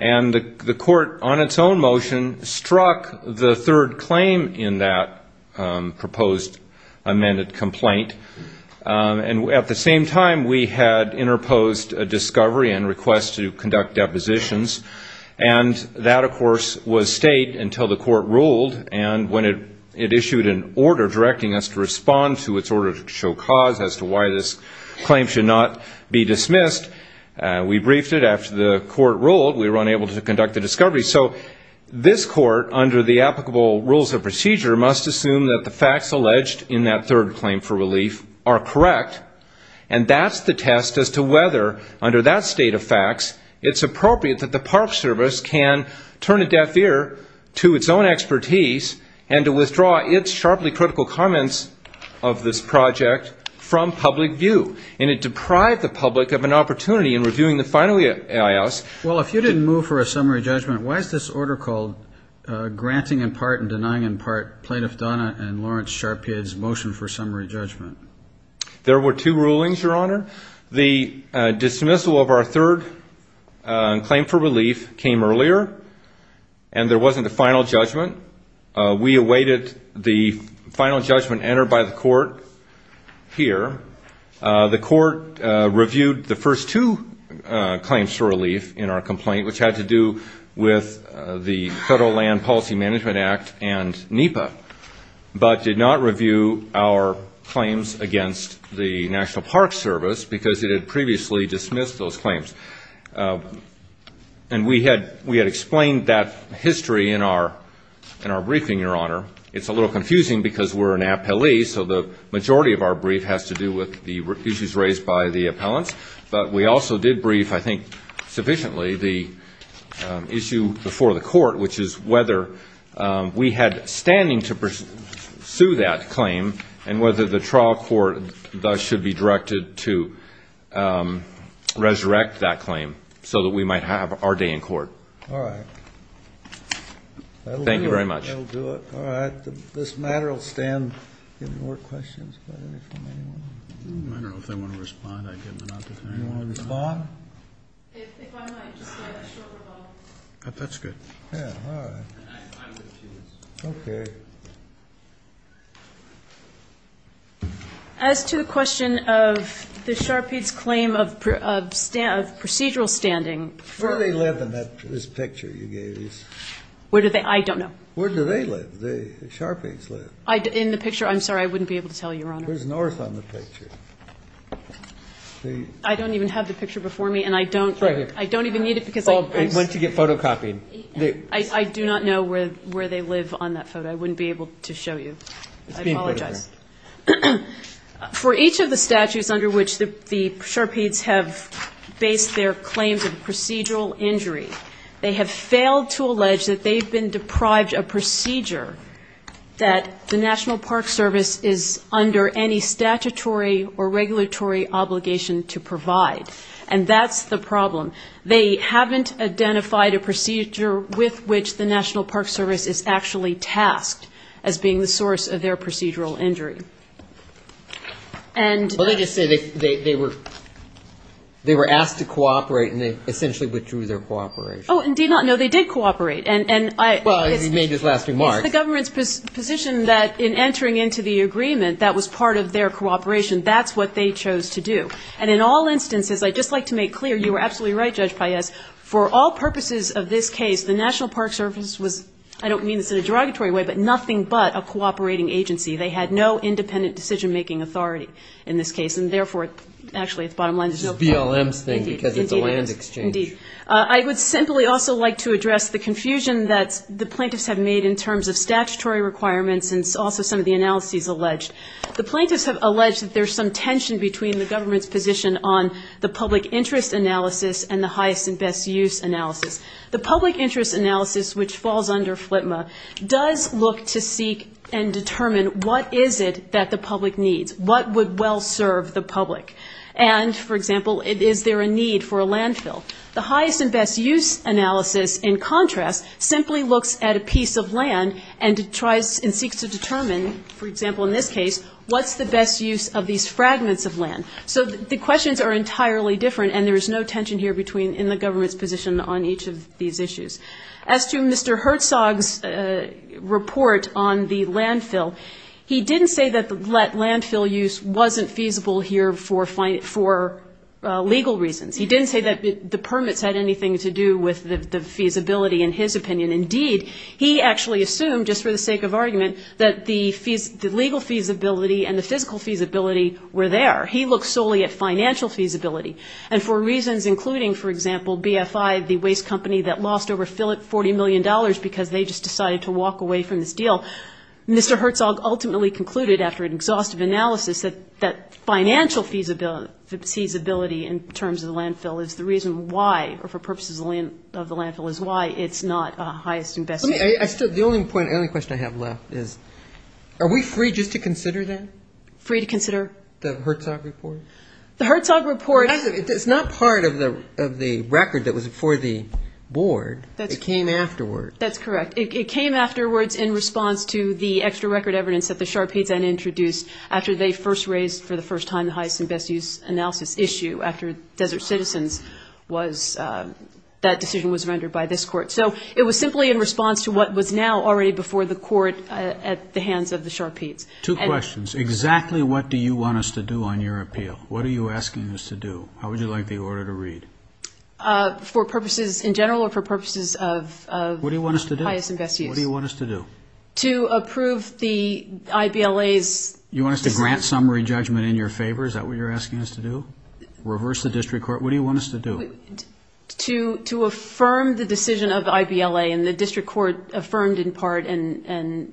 And the court, on its own motion, struck the third claim in that proposed amended complaint. And at the same time, we had interposed a discovery and request to conduct depositions. And that, of course, was state until the court ruled. And when it issued an order directing us to respond to its order to show cause as to why this claim should not be dismissed, we briefed it after the court ruled we were unable to conduct a discovery. So this court, under the applicable rules of procedure, must assume that the facts alleged in that third claim for relief are correct. And that's the test as to whether, under that state of facts, it's appropriate that the Park Service can turn a deaf ear to its own expertise and to withdraw its sharply critical comments of this project from public view. And it deprived the public of an opportunity in reviewing the final EIS. Well, if you didn't move for a summary judgment, why is this order called Granting in part and denying in part Plaintiff Donna and Lawrence Sharpkid's motion for summary judgment. There were two rulings, Your Honor. The dismissal of our third claim for relief came earlier, and there wasn't a final judgment. We awaited the final judgment entered by the court here. The court reviewed the first two claims for relief in our complaint, which had to do with the Federal Land Policy Management Act and NEPA, but did not review our claims against the National Park Service because it had previously dismissed those claims. And we had explained that history in our briefing, Your Honor. It's a little confusing because we're an appellee, so the majority of our brief has to do with the issues raised by the appellant. But we also did brief, I think sufficiently, the issue before the court, which is whether we had standing to pursue that claim and whether the trial court thus should be directed to resurrect that claim so that we might have our day in court. All right. Thank you very much. All right. This matter will stand. Any more questions? I don't know if they want to respond. You want to respond? That's good. Yeah, all right. Okay. As to the question of the Sharpkid's claim of procedural standing. Where do they live in this picture you gave us? I don't know. Where do they live? The Sharpkid's live. In the picture? I'm sorry, I wouldn't be able to tell you, Your Honor. Where's Norris on the picture? I don't even have the picture before me, and I don't even need it. Once you get photocopied. I do not know where they live on that photo. I wouldn't be able to show you. I apologize. For each of the statutes under which the Sharpkid's have based their claims of procedural injury, they have failed to allege that they've been deprived of procedure that the National Park Service is under any statutory or regulatory obligation to provide. And that's the problem. They haven't identified a procedure with which the National Park Service is actually tasked as being the source of their procedural injury. Let me just say they were asked to cooperate, and they essentially withdrew their cooperation. Oh, indeed not. No, they did cooperate. Well, you made this last remark. It's the government's position that in entering into the agreement that was part of their cooperation, that's what they chose to do. And in all instances, I'd just like to make clear, you were absolutely right, Judge Payette, for all purposes of this case, the National Park Service was, I don't mean this in a derogatory way, but nothing but a cooperating agency. They had no independent decision-making authority in this case, and therefore, actually, it's bottom line. It's a BLM thing because it's a land exchange. Indeed. I would simply also like to address the confusion that the plaintiffs have made in terms of statutory requirements and also some of the analyses alleged. The plaintiffs have alleged that there's some tension between the government's position on the public interest analysis and the highest and best use analysis. The public interest analysis, which falls under FLTMA, does look to seek and determine what is it that the public needs, what would well serve the public. And, for example, is there a need for a landfill? The highest and best use analysis, in contrast, simply looks at a piece of land and seeks to determine, for example, in this case, what's the best use of these fragments of land? So the questions are entirely different, and there is no tension here in the government's position on each of these issues. As to Mr. Herzog's report on the landfill, he didn't say that the landfill use wasn't feasible here for legal reasons. He didn't say that the permits had anything to do with the feasibility, in his opinion. Indeed, he actually assumed, just for the sake of argument, that the legal feasibility and the physical feasibility were there. He looked solely at financial feasibility, and for reasons including, for example, BFI, the waste company that lost over $40 million because they just decided to walk away from this deal. Mr. Herzog ultimately concluded, after an exhaustive analysis, that financial feasibility in terms of the landfill is the reason why, or for purposes of the landfill, is why it's not a highest and best use. The only question I have left is, are we free just to consider that? Free to consider? The Herzog report? The Herzog report. It's not part of the record that was before the board. It came afterwards. That's correct. It came afterwards in response to the extra record evidence that the SHRP then introduced after they first raised, for the first time, the highest and best use analysis issue after Desert Citizens. That decision was rendered by this court. So it was simply in response to what was now already before the court at the hands of the SHRP. Two questions. Exactly what do you want us to do on your appeal? What are you asking us to do? How would you like the order to read? For purposes in general or for purposes of highest and best use? What do you want us to do? What do you want us to do? To approve the IVLA's You want us to grant summary judgment in your favor? Is that what you're asking us to do? Reverse the district court? What do you want us to do? To affirm the decision of IVLA and the district court affirmed in part and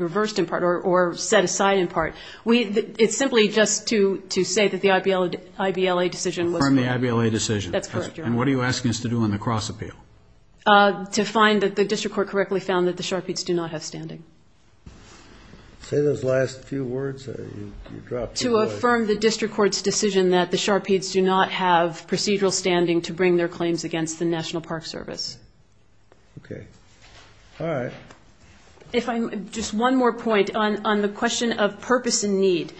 reversed in part or set aside in part. It's simply just to say that the IVLA decision Affirm the IVLA decision. That's correct, Your Honor. And what are you asking us to do on the cross appeal? To find that the district court correctly found that the Sharpies do not have standing. Say those last few words. To affirm the district court's decision that the Sharpies do not have procedural standing to bring their claims against the National Park Service. Okay. All right. Just one more point on the question of purpose and need.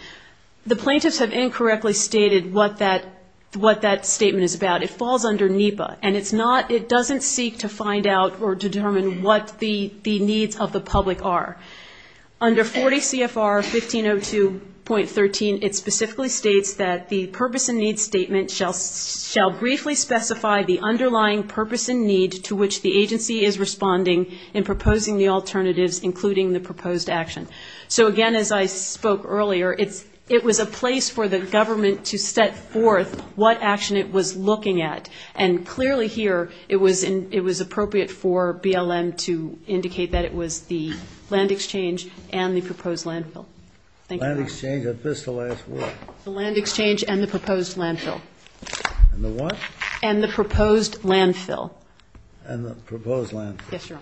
The plaintiffs have incorrectly stated what that statement is about. It falls under NEPA and it doesn't seek to find out or determine what the needs of the public are. Under 40 CFR 1502.13 it specifically states that the purpose and need statement shall briefly specify the underlying purpose and need to which the agency is responding in proposing the alternatives including the proposed action. So again, as I spoke earlier, it was a place for the government to set forth what action it was looking at. And clearly here it was appropriate for BLM to indicate that it was the land exchange and the proposed landfill. Thank you. Land exchange. Is this the last word? The land exchange and the proposed landfill. And the what? And the proposed landfill. And the proposed landfill. Yes, Your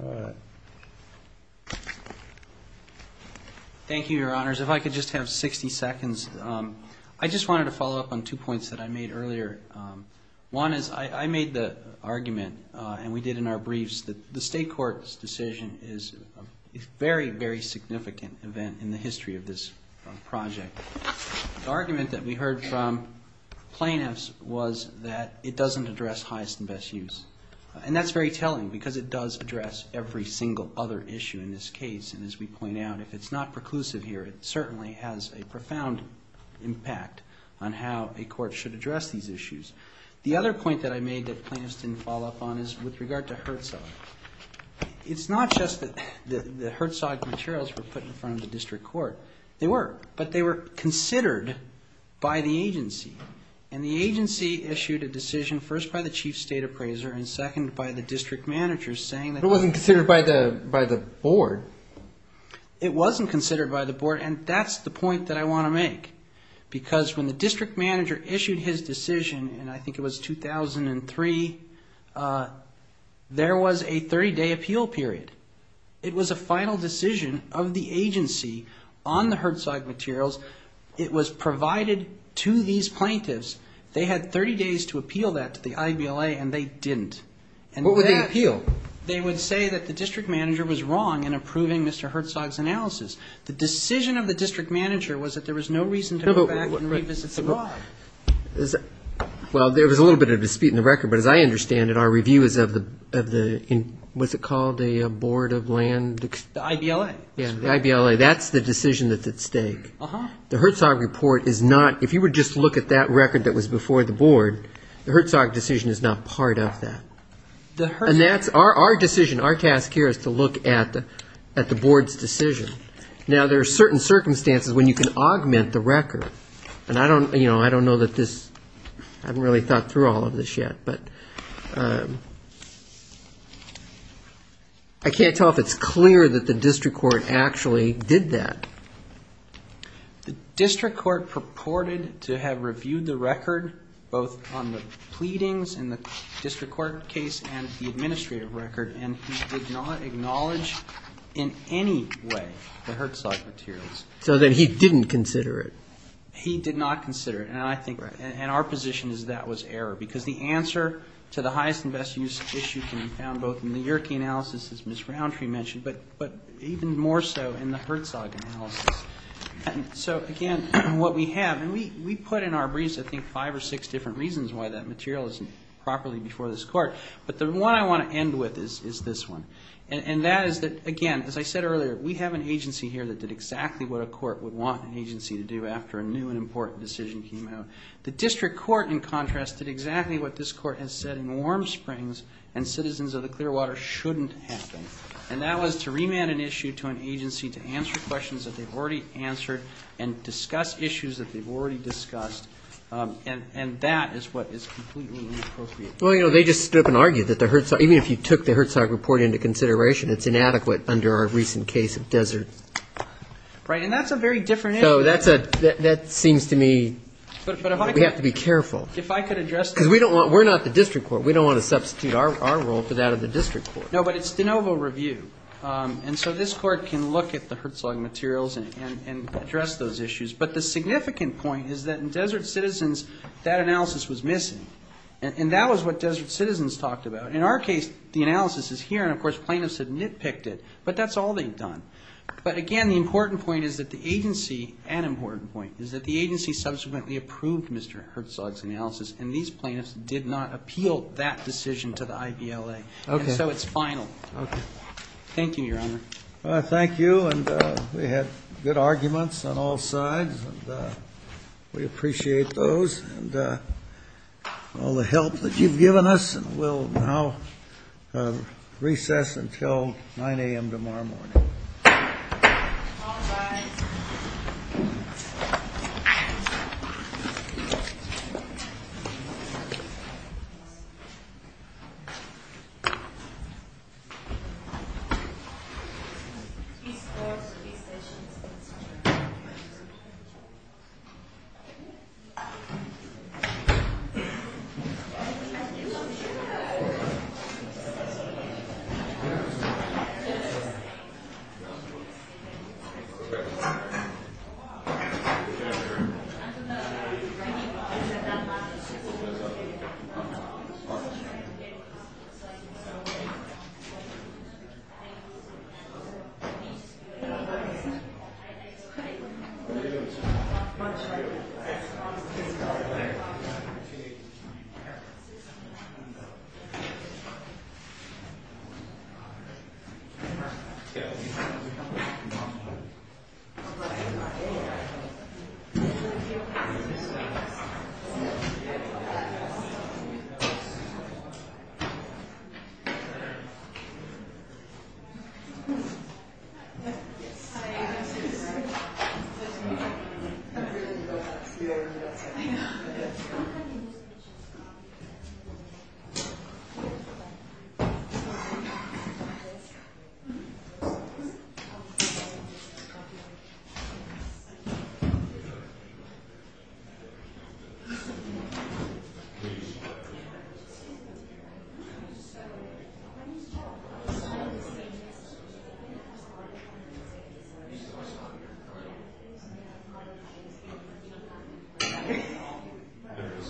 Honor. All right. Thank you, Your Honors. If I could just have 60 seconds. I just wanted to follow up on two points that I made earlier. One is I made the argument and we did in our briefs that the state court's decision is a very, very significant event in the history of this project. The argument that we heard from plaintiffs was that it doesn't address highest and best use. And that's very telling because it does address every single other issue in this case. And as we point out, it's not preclusive here. It certainly has a profound impact on how a court should address these issues. The other point that I made that plaintiffs didn't follow up on is with regard to HRTSA. It's not just that the HRTSA materials were put in front of the district court. They were, but they were considered by the agency. And the agency issued a decision first by the chief state appraiser and second by the district manager saying that... It wasn't considered by the board. It wasn't considered by the board and that's the point that I want to make. Because when the district manager issued his decision, and I think it was 2003, there was a 30-day appeal period. It was a final decision of the agency on the HRTSA materials. It was provided to these plaintiffs. They had 30 days to appeal that to the IBLA and they didn't. What would they appeal? They would say that the district manager was wrong in approving Mr. HRTSA's analysis. The decision of the district manager was that there was no reason to go back and read this. Why? Well, there was a little bit of dispute in the record, but as I understand it, our review is of the... What's it called? A board of land... The IBLA. Yeah, the IBLA. So that's the decision that's at stake. The HRTSA report is not... If you would just look at that record that was before the board, the HRTSA decision is not part of that. And that's our decision. Our task here is to look at the board's decision. Now, there are certain circumstances when you can augment the record. And I don't know that this... I haven't really thought through all of this yet, but... I can't tell if it's clear that the district court actually did that. The district court purported to have reviewed the record, both on the pleadings in the district court case and the administrative record, and he did not acknowledge in any way the HRTSA materials. So then he didn't consider it. He did not consider it. And our position is that was error. Because the answer to the highest and best use issue can be found both in the Yerke analysis, as Ms. Browntree mentioned, but even more so in the HRTSA analysis. So, again, what we have... We put in our briefs, I think, five or six different reasons why that material isn't properly before this court. But the one I want to end with is this one. And that is that, again, as I said earlier, we have an agency here that did exactly what a court would want an agency to do after a new and important decision came out. The district court, in contrast, did exactly what this court has said in Warm Springs, and citizens of the Clearwater shouldn't have them. And that was to remand an issue to an agency to answer questions that they've already answered and discuss issues that they've already discussed. And that is what is completely inappropriate. Well, you know, they just stood up and argued that the HRTSA... Even if you took the HRTSA report into consideration, it's inadequate under our recent case of Desert. Right, and that's a very different issue. So that seems to me... But if I could... We have to be careful. If I could address that... Because we don't want... We're not the district court. We don't want to substitute our role for that of the district court. No, but it's de novo review. And so this court can look at the HRTSA materials and address those issues. But the significant point is that in Desert Citizens, that analysis was missing. And that was what Desert Citizens talked about. In our case, the analysis is here. And, of course, plaintiffs had nitpicked it. But that's all they've done. But, again, the important point is that the agency... An important point is that the agency subsequently approved Mr. HRTSA's analysis. And these plaintiffs did not appeal that decision to the IDLA. Okay. And so it's final. Okay. Thank you, Your Honor. Thank you. And we have good arguments on all sides. And we appreciate those. And all the help that you've given us. And we'll now recess until 9 a.m. tomorrow morning. Thank you. Thank you. Thank you. Thank you. Thank you.